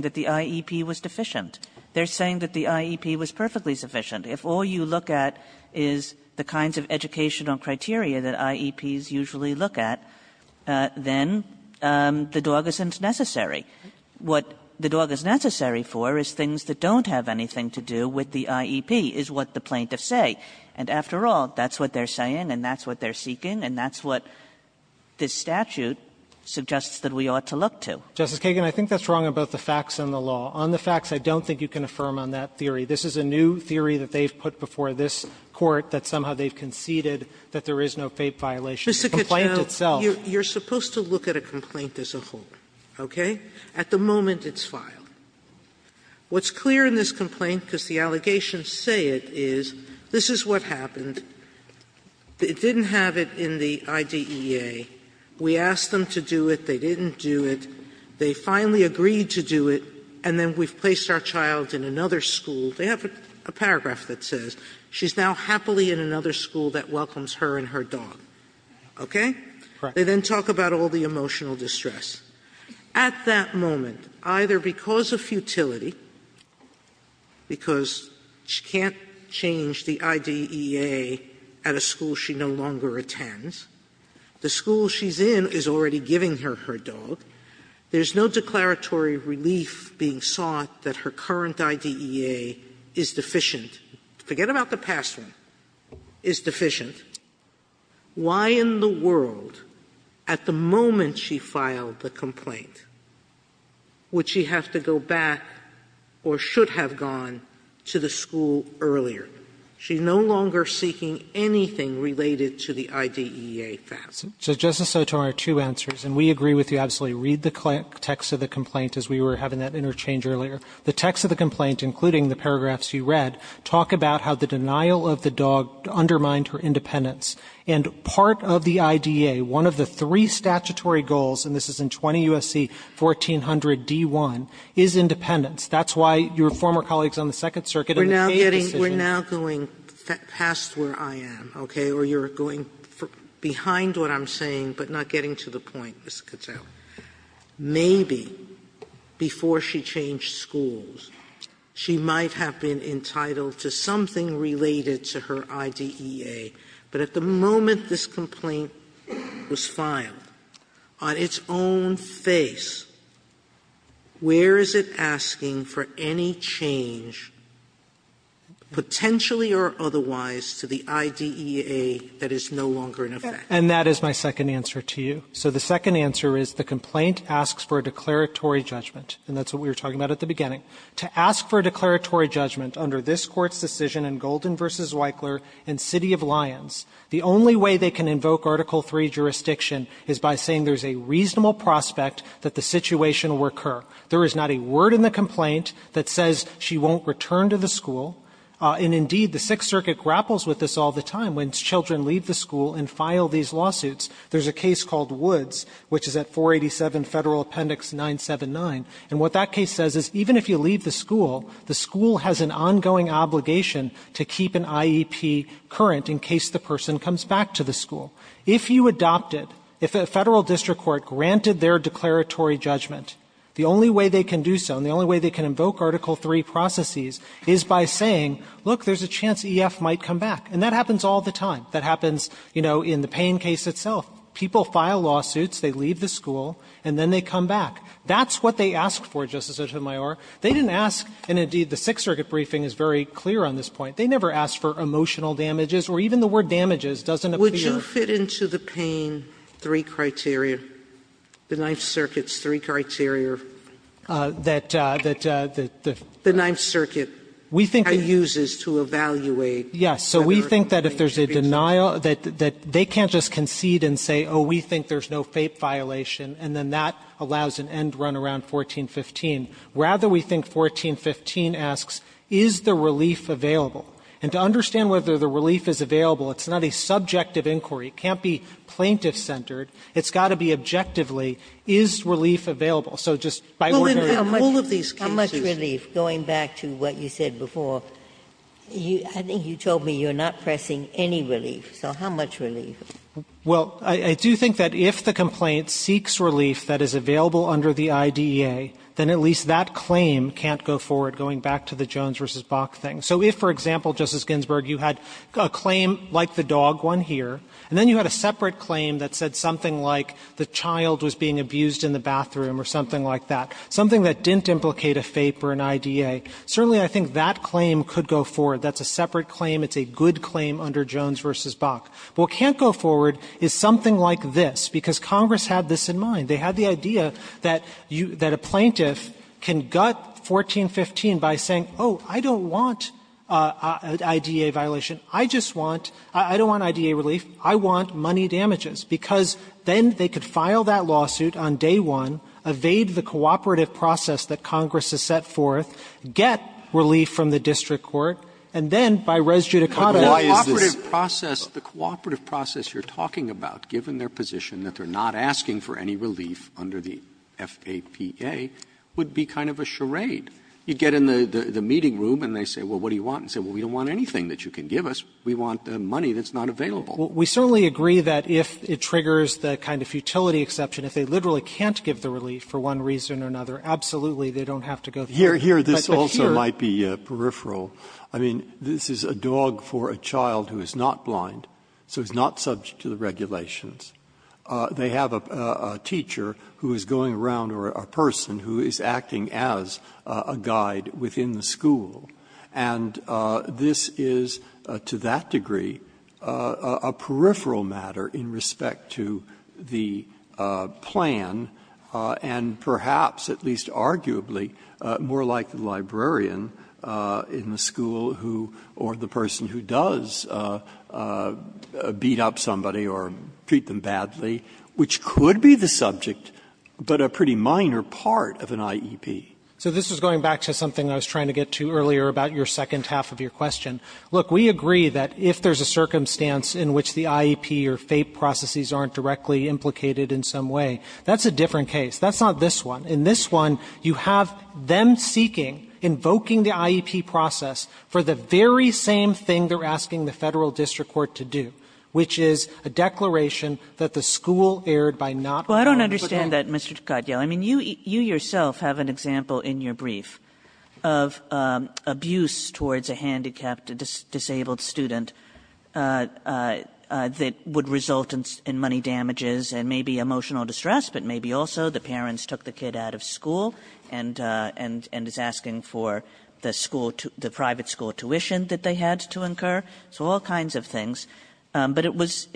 Kagan. They're saying that the IEP was perfectly sufficient. If all you look at is the kinds of educational criteria that IEPs usually look at, then the dog isn't necessary. What the dog is necessary for is things that don't have anything to do with the IEP, is what the plaintiffs say. And after all, that's what they're saying, and that's what they're seeking, and that's what this statute suggests that we ought to look to. Justice Kagan, I think that's wrong about the facts and the law. On the facts, I don't think you can affirm on that theory. This is a new theory that they've put before this Court that somehow they've conceded that there is no fape violation of the complaint itself. Sotomayor, you're supposed to look at a complaint as a whole, okay? At the moment, it's filed. What's clear in this complaint, because the allegations say it, is this is what happened. It didn't have it in the IDEA. We asked them to do it, they didn't do it. They finally agreed to do it, and then we've placed our child in another school. They have a paragraph that says, ''She's now happily in another school that welcomes her and her dog.'' Okay? They then talk about all the emotional distress. At that moment, either because of futility, because she can't change the IDEA at a school she no longer attends, the school she's in is already giving her her dog, there's no declaratory relief being sought that her current IDEA is deficient. Forget about the past one, is deficient. Why in the world, at the moment she filed the complaint, would she have to go back or should have gone to the school earlier? She's no longer seeking anything related to the IDEA facts. So Justice Sotomayor, two answers, and we agree with you absolutely. Read the text of the complaint as we were having that interchange earlier. The text of the complaint, including the paragraphs you read, talk about how the denial of the dog undermined her independence, and part of the IDEA, one of the three statutory goals, and this is in 20 U.S.C. 1400d1, is independence. That's why your former colleagues on the Second Circuit in the case decision Sotomayor, you are now going past where I am, okay, or you're going behind what I'm saying but not getting to the point, Ms. Cattell. Maybe before she changed schools, she might have been entitled to something related to her IDEA, but at the moment this complaint was filed, on its own face, where is it potentially or otherwise to the IDEA that is no longer in effect? Katyala, and that is my second answer to you. So the second answer is the complaint asks for a declaratory judgment, and that's what we were talking about at the beginning. To ask for a declaratory judgment under this Court's decision in Golden v. Weichler in City of Lyons, the only way they can invoke Article III jurisdiction is by saying there's a reasonable prospect that the situation will recur. There is not a word in the complaint that says she won't return to the school. And indeed, the Sixth Circuit grapples with this all the time when children leave the school and file these lawsuits. There's a case called Woods, which is at 487 Federal Appendix 979. And what that case says is even if you leave the school, the school has an ongoing obligation to keep an IEP current in case the person comes back to the school. If you adopted, if a Federal district court granted their declaratory judgment, the only way they can do so and the only way they can invoke Article III processes is by saying, look, there's a chance EF might come back. And that happens all the time. That happens, you know, in the Payne case itself. People file lawsuits, they leave the school, and then they come back. That's what they asked for, Justice Sotomayor. They didn't ask, and indeed the Sixth Circuit briefing is very clear on this point, they never asked for emotional damages or even the word damages doesn't appear. Sotomayor, would you fit into the Payne three criteria, the Ninth Circuit's three criteria? Katyala, that the Ninth Circuit kind of uses to evaluate whether or not there is a fake violation? Katyala, we think that if there's a denial, that they can't just concede and say, oh, we think there's no fake violation, and then that allows an end run around 1415. Rather, we think 1415 asks, is the relief available? And to understand whether the relief is available, it's not a subjective inquiry. It can't be plaintiff-centered. It's got to be objectively, is relief available? So just by ordering all of these cases. Ginsburg How much relief, going back to what you said before, I think you told me you're not pressing any relief, so how much relief? Katyala, I do think that if the complaint seeks relief that is available under the IDEA, then at least that claim can't go forward, going back to the Jones v. Bok thing. So if, for example, Justice Ginsburg, you had a claim like the dog one here, and then you had a separate claim that said something like the child was being abused in the home, or something like that, something that didn't implicate a FAPE or an IDEA, certainly I think that claim could go forward. That's a separate claim. It's a good claim under Jones v. Bok. What can't go forward is something like this, because Congress had this in mind. They had the idea that a plaintiff can gut 1415 by saying, oh, I don't want an IDEA violation. I just want – I don't want IDEA relief. I want money damages, because then they could file that lawsuit on day one, evade the cooperative process that Congress has set forth, get relief from the district court, and then by res judicata, not this. Roberts The cooperative process you're talking about, given their position that they're not asking for any relief under the FAPA, would be kind of a charade. You get in the meeting room and they say, well, what do you want? And you say, well, we don't want anything that you can give us. We want money that's not available. We certainly agree that if it triggers the kind of futility exception, if they literally can't give the relief for one reason or another, absolutely, they don't have to go through. Breyer Here, this also might be peripheral. I mean, this is a dog for a child who is not blind, so it's not subject to the regulations. They have a teacher who is going around, or a person who is acting as a guide within the school. And this is, to that degree, a peripheral matter in respect to the plan, and perhaps, at least arguably, more like the librarian in the school who or the person who does beat up somebody or treat them badly, which could be the subject, but a pretty minor part of an IEP. So this is going back to something I was trying to get to earlier about your second half of your question. Look, we agree that if there's a circumstance in which the IEP or FAPE processes aren't directly implicated in some way, that's a different case. That's not this one. In this one, you have them seeking, invoking the IEP process for the very same thing they're asking the Federal district court to do, which is a declaration that the school erred by not going to the school. Well, I don't understand that, Mr. Cotillo. I mean, you yourself have an example in your brief of abuse towards a handicapped disabled student that would result in money damages and maybe emotional distress, but maybe also the parents took the kid out of school and is asking for the private school tuition that they had to incur, so all kinds of things. But it was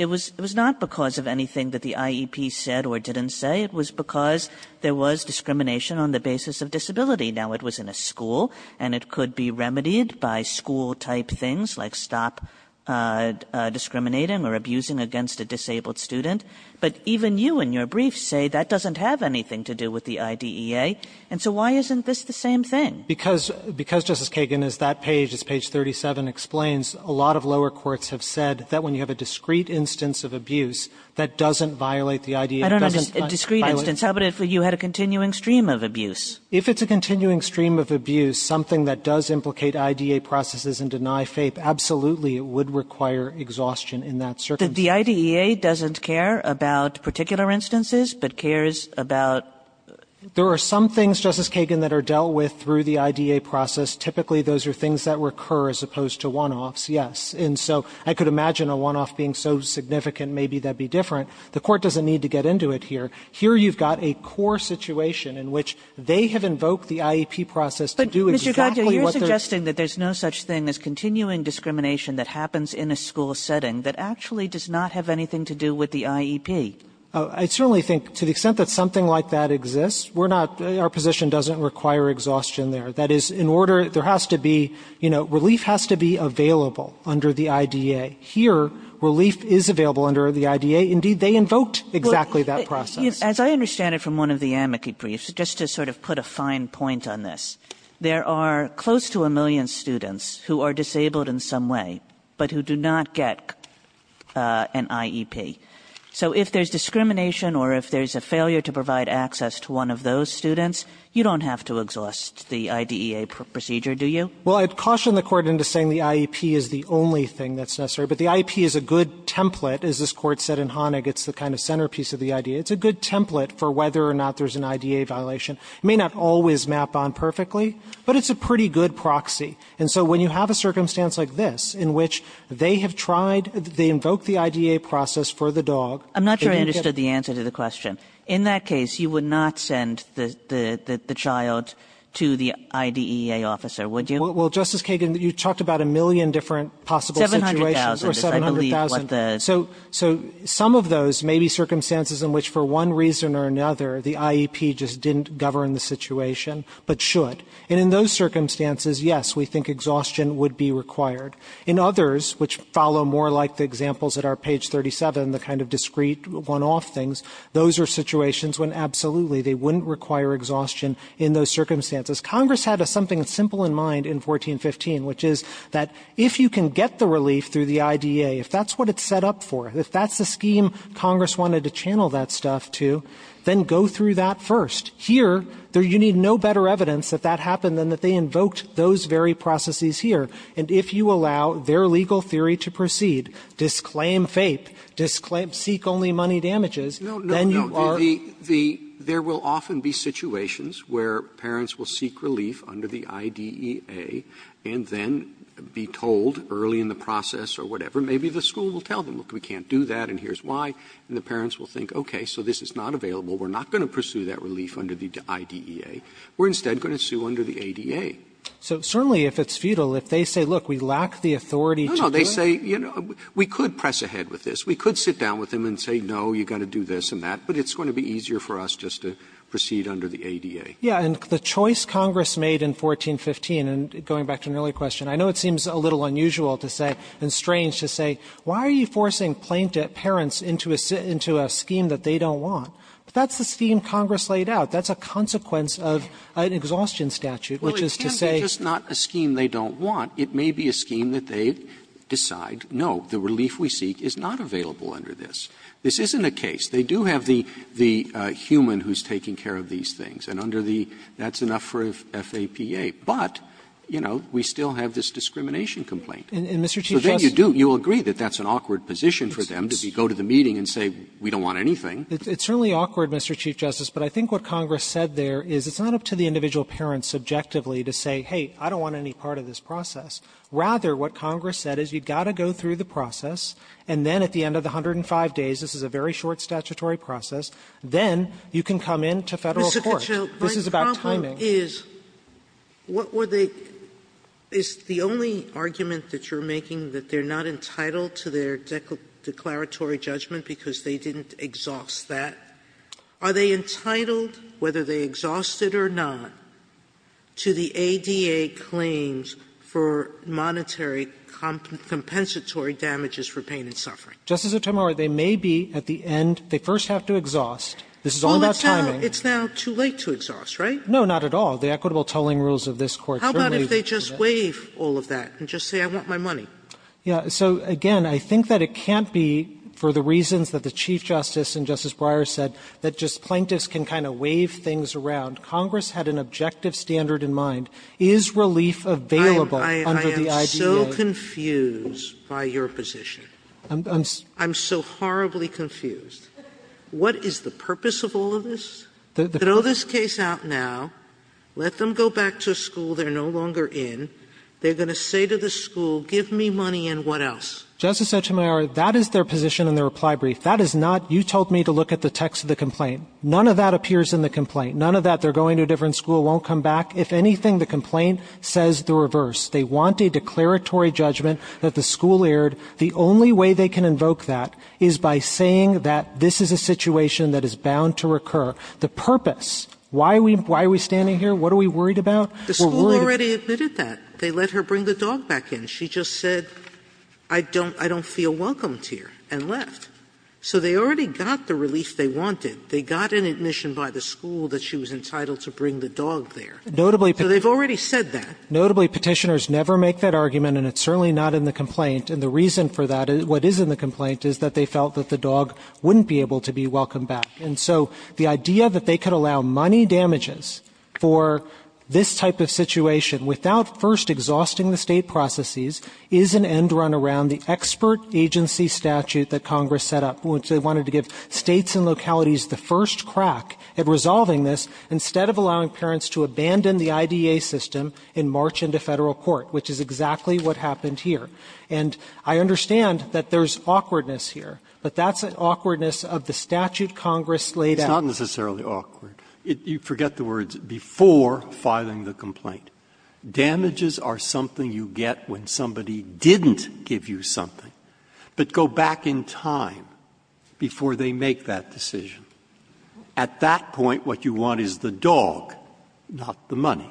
not because of anything that the IEP said or didn't say. It was because there was discrimination on the basis of disability. Now, it was in a school, and it could be remedied by school-type things like stop discriminating or abusing against a disabled student. But even you in your brief say that doesn't have anything to do with the IDEA. And so why isn't this the same thing? Because, Justice Kagan, as that page, as page 37 explains, a lot of lower courts have said that when you have a discrete instance of abuse, that doesn't violate the IDEA. It doesn't violate the IDEA. I don't understand discrete instance. How about if you had a continuing stream of abuse? If it's a continuing stream of abuse, something that does implicate IDEA processes and deny FAPE, absolutely it would require exhaustion in that circumstance. The IDEA doesn't care about particular instances, but cares about the IDEA? There are some things, Justice Kagan, that are dealt with through the IDEA process. Typically, those are things that recur as opposed to one-offs, yes. And so I could imagine a one-off being so significant, maybe that would be different. The Court doesn't need to get into it here. Here you've got a core situation in which they have invoked the IEP process to do exactly what they're saying. Kagan, you're suggesting that there's no such thing as continuing discrimination that happens in a school setting that actually does not have anything to do with the IEP. I certainly think to the extent that something like that exists, we're not, our position doesn't require exhaustion there. In order, there has to be, you know, relief has to be available under the IDEA. Here, relief is available under the IDEA. Indeed, they invoked exactly that process. As I understand it from one of the amici briefs, just to sort of put a fine point on this, there are close to a million students who are disabled in some way, but who do not get an IEP. So if there's discrimination or if there's a failure to provide access to one of those students, you don't have to exhaust the IDEA procedure, do you? Well, I'd caution the Court into saying the IEP is the only thing that's necessary. But the IEP is a good template, as this Court said in Honig. It's the kind of centerpiece of the IDEA. It's a good template for whether or not there's an IDEA violation. It may not always map on perfectly, but it's a pretty good proxy. And so when you have a circumstance like this, in which they have tried, they invoked the IDEA process for the dog. I'm not sure I understood the answer to the question. In that case, you would not send the child to the IDEA officer, would you? Well, Justice Kagan, you talked about a million different possible situations. 700,000. 700,000. I believe what the So some of those may be circumstances in which for one reason or another, the IEP just didn't govern the situation, but should. And in those circumstances, yes, we think exhaustion would be required. In others, which follow more like the examples at our page 37, the kind of discrete one-off things, those are situations when absolutely they wouldn't require exhaustion in those circumstances. Congress had something simple in mind in 1415, which is that if you can get the relief through the IDEA, if that's what it's set up for, if that's the scheme Congress wanted to channel that stuff to, then go through that first. Here, you need no better evidence that that happened than that they invoked those very processes here. And if you allow their legal theory to proceed, disclaim FAPE, disclaim seek-only money damages, then you are No, no, no. The there will often be situations where parents will seek relief under the IDEA and then be told early in the process or whatever, maybe the school will tell them, look, we can't do that and here's why. And the parents will think, okay, so this is not available. We're not going to pursue that relief under the IDEA. We're instead going to sue under the ADA. So certainly if it's futile, if they say, look, we lack the authority to do it. No, no. They say, you know, we could press ahead with this. We could sit down with them and say, no, you've got to do this and that. But it's going to be easier for us just to proceed under the ADA. Yeah. And the choice Congress made in 1415, and going back to an earlier question, I know it seems a little unusual to say and strange to say, why are you forcing plaintiff parents into a scheme that they don't want? But that's the scheme Congress laid out. That's a consequence of an exhaustion statute, which is to say… Well, it can't be just not a scheme they don't want. It may be a scheme that they decide, no, the relief we seek is not available under this. This isn't a case. They do have the human who's taking care of these things. And under the – that's enough for FAPA. But, you know, we still have this discrimination complaint. And, Mr. Chief Justice… So then you do – you will agree that that's an awkward position for them to go to the meeting and say, we don't want anything. It's certainly awkward, Mr. Chief Justice. But I think what Congress said there is it's not up to the individual parent subjectively to say, hey, I don't want any part of this process. Rather, what Congress said is you've got to go through the process, and then at the end of the 105 days, this is a very short statutory process, then you can come into Federal court. Sotomayor, this is about timing. Sotomayor, my problem is, what were they – is the only argument that you're making that they're not entitled to their declaratory judgment because they didn't exhaust that, are they entitled, whether they exhaust it or not, to the ADA claims for monetary compensatory damages for pain and suffering? Justice Sotomayor, they may be at the end – they first have to exhaust. This is only about timing. It's now too late to exhaust, right? No, not at all. The equitable tolling rules of this Court certainly – How about if they just waive all of that and just say, I want my money? Yeah. So, again, I think that it can't be for the reasons that the Chief Justice and Justice Breyer said, that just plaintiffs can kind of waive things around. Congress had an objective standard in mind. Is relief available under the IDA? I am so confused by your position. I'm so horribly confused. What is the purpose of all of this? Throw this case out now. Let them go back to a school they're no longer in. They're going to say to the school, give me money and what else? Justice Sotomayor, that is their position in the reply brief. That is not – you told me to look at the text of the complaint. None of that appears in the complaint. None of that, they're going to a different school, won't come back. If anything, the complaint says the reverse. They want a declaratory judgment that the school erred. The only way they can invoke that is by saying that this is a situation that is bound to recur. The purpose – why are we standing here? What are we worried about? The school already admitted that. They let her bring the dog back in. She just said, I don't – I don't feel welcome here, and left. So they already got the relief they wanted. They got an admission by the school that she was entitled to bring the dog there. So they've already said that. Notably, Petitioners never make that argument, and it's certainly not in the complaint. And the reason for that, what is in the complaint, is that they felt that the dog wouldn't be able to be welcomed back. And I understand that there's awkwardness here, but that's an awkwardness of the statute Congress laid out. Breyer. It's not necessarily awkward. You forget the words before filing the complaint. Damages are something you get when somebody didn't give you something, but go back in time before they make that decision. At that point, what you want is the dog, not the money.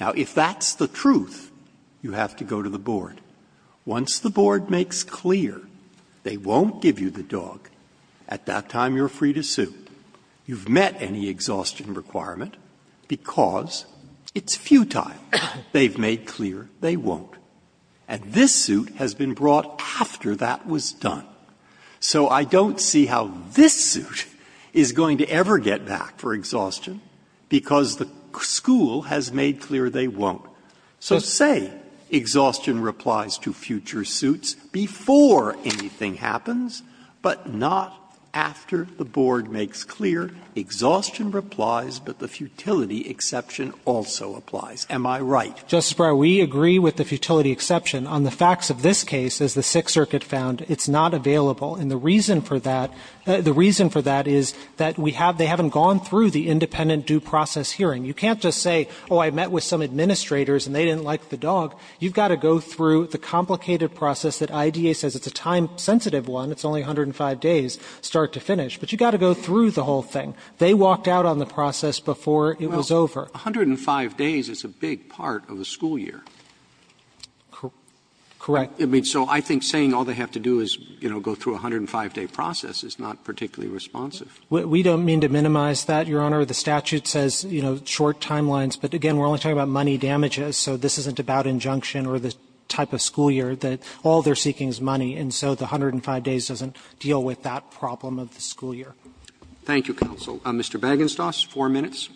Now, if that's the truth, you have to go to the board. Once the board makes clear they won't give you the dog, at that time you're free to sue. You've met any exhaustion requirement, because it's futile. They've made clear they won't. And this suit has been brought after that was done. So I don't see how this suit is going to ever get back for exhaustion, because the school has made clear they won't. So say exhaustion replies to future suits before anything happens, but not after the board makes clear exhaustion replies, but the futility exception also applies. Am I right? Justice Breyer, we agree with the futility exception. On the facts of this case, as the Sixth Circuit found, it's not available. And the reason for that, the reason for that is that we have they haven't gone through the independent due process hearing. You can't just say, oh, I met with some administrators and they didn't like the dog. You've got to go through the complicated process that IDA says. It's a time-sensitive one. It's only 105 days start to finish. But you've got to go through the whole thing. They walked out on the process before it was over. Roberts, 105 days is a big part of a school year. Correct. I mean, so I think saying all they have to do is, you know, go through a 105-day process is not particularly responsive. We don't mean to minimize that, Your Honor. The statute says, you know, short timelines. But again, we're only talking about money damages, so this isn't about injunction or the type of school year that all they're seeking is money. And so the 105 days doesn't deal with that problem of the school year. Thank you, counsel. Mr. Bagenstos, four minutes.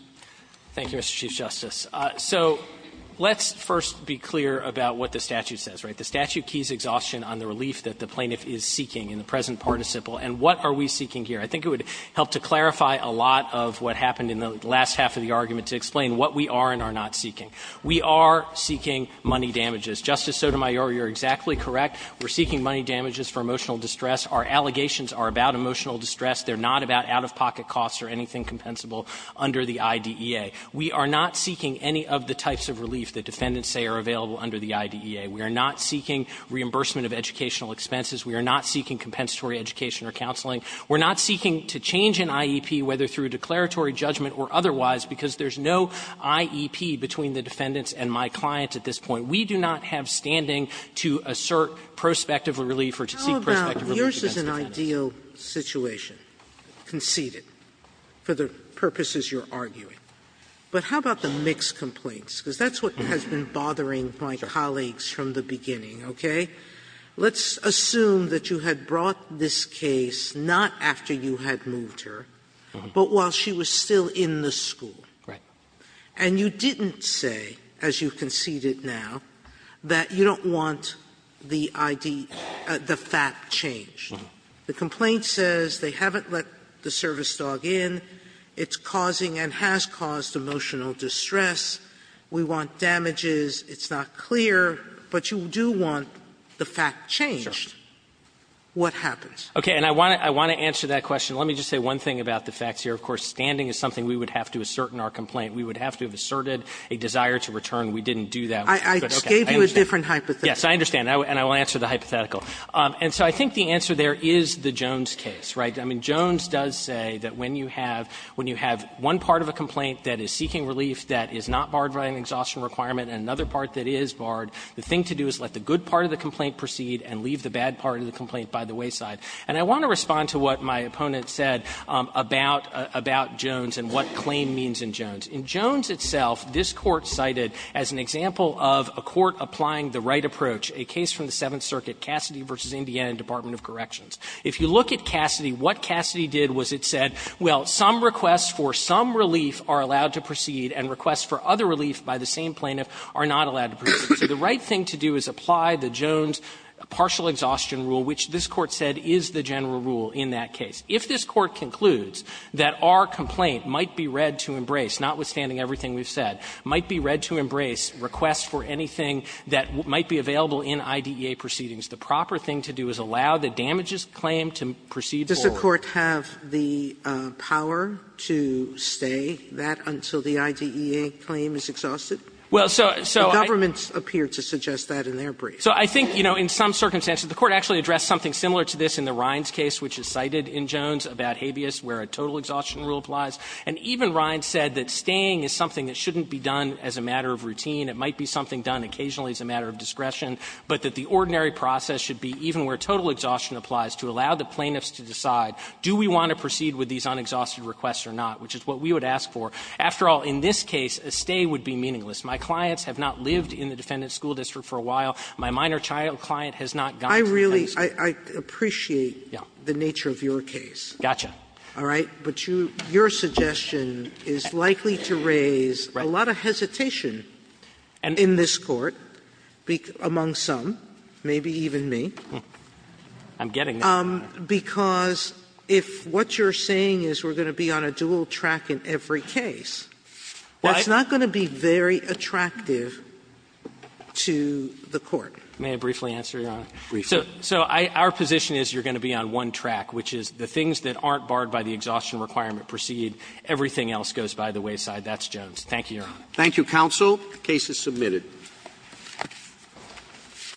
Thank you, Mr. Chief Justice. So let's first be clear about what the statute says, right? The statute keys exhaustion on the relief that the plaintiff is seeking in the present participle. And what are we seeking here? I think it would help to clarify a lot of what happened in the last half of the argument to explain what we are and are not seeking. We are seeking money damages. Justice Sotomayor, you're exactly correct. We're seeking money damages for emotional distress. Our allegations are about emotional distress. They're not about out-of-pocket costs or anything compensable under the IDEA. We are not seeking any of the types of relief that defendants say are available under the IDEA. We are not seeking reimbursement of educational expenses. We are not seeking compensatory education or counseling. We're not seeking to change an IEP, whether through declaratory judgment or otherwise, because there's no IEP between the defendants and my client at this point. We do not have standing to assert prospective relief or to seek prospective Sotomayor, your's is an ideal situation, conceded, for the purposes you're arguing. But how about the mixed complaints? Because that's what has been bothering my colleagues from the beginning, okay? Let's assume that you had brought this case not after you had moved her, but while she was still in the school. Right. And you didn't say, as you conceded now, that you don't want the IDEA, the fact changed. The complaint says they haven't let the service dog in, it's causing and has caused emotional distress, we want damages, it's not clear, but you do want the fact changed. What happens? Okay. And I want to answer that question. Let me just say one thing about the facts here. Of course, standing is something we would have to assert in our complaint. We would have to have asserted a desire to return. We didn't do that. Sotomayor, I just gave you a different hypothetical. Yes, I understand, and I will answer the hypothetical. And so I think the answer there is the Jones case, right? I mean, Jones does say that when you have one part of a complaint that is seeking relief that is not barred by an exhaustion requirement and another part that is barred, the thing to do is let the good part of the complaint proceed and leave the bad part of the complaint by the wayside. And I want to respond to what my opponent said about Jones and what claim means in Jones. In Jones itself, this Court cited as an example of a court applying the right approach, a case from the Seventh Circuit, Cassidy v. Indiana Department of Corrections. If you look at Cassidy, what Cassidy did was it said, well, some requests for some relief are allowed to proceed and requests for other relief by the same plaintiff are not allowed to proceed. So the right thing to do is apply the Jones partial exhaustion rule, which this Court said is the general rule in that case. If this Court concludes that our complaint might be read to embrace, notwithstanding everything we've said, might be read to embrace requests for anything that might be available in IDEA proceedings, the proper thing to do is allow the damages claim to proceed forward. Sotomayor, Does the Court have the power to stay that until the IDEA claim is exhausted? The government appeared to suggest that in their brief. So I think, you know, in some circumstances, the Court actually addressed something similar to this in the Rines case, which is cited in Jones about habeas where a total exhaustion rule applies. And even Rines said that staying is something that shouldn't be done as a matter of routine. It might be something done occasionally as a matter of discretion, but that the ordinary process should be even where total exhaustion applies to allow the plaintiffs to decide do we want to proceed with these unexhausted requests or not, which is what we would ask for. After all, in this case, a stay would be meaningless. My clients have not lived in the defendant's school district for a while. My minor child client has not gone to the defendant's school district. Sotomayor, I really – I appreciate the nature of your case. Got you. All right? But your suggestion is likely to raise a lot of hesitation in this Court among some, maybe even me. I'm getting there, Your Honor. Because if what you're saying is we're going to be on a dual track in every case, that's not going to be very attractive to the Court. May I briefly answer, Your Honor? Briefly. So our position is you're going to be on one track, which is the things that aren't barred by the exhaustion requirement proceed. Everything else goes by the wayside. That's Jones. Thank you, Your Honor. Thank you, counsel. The case is submitted.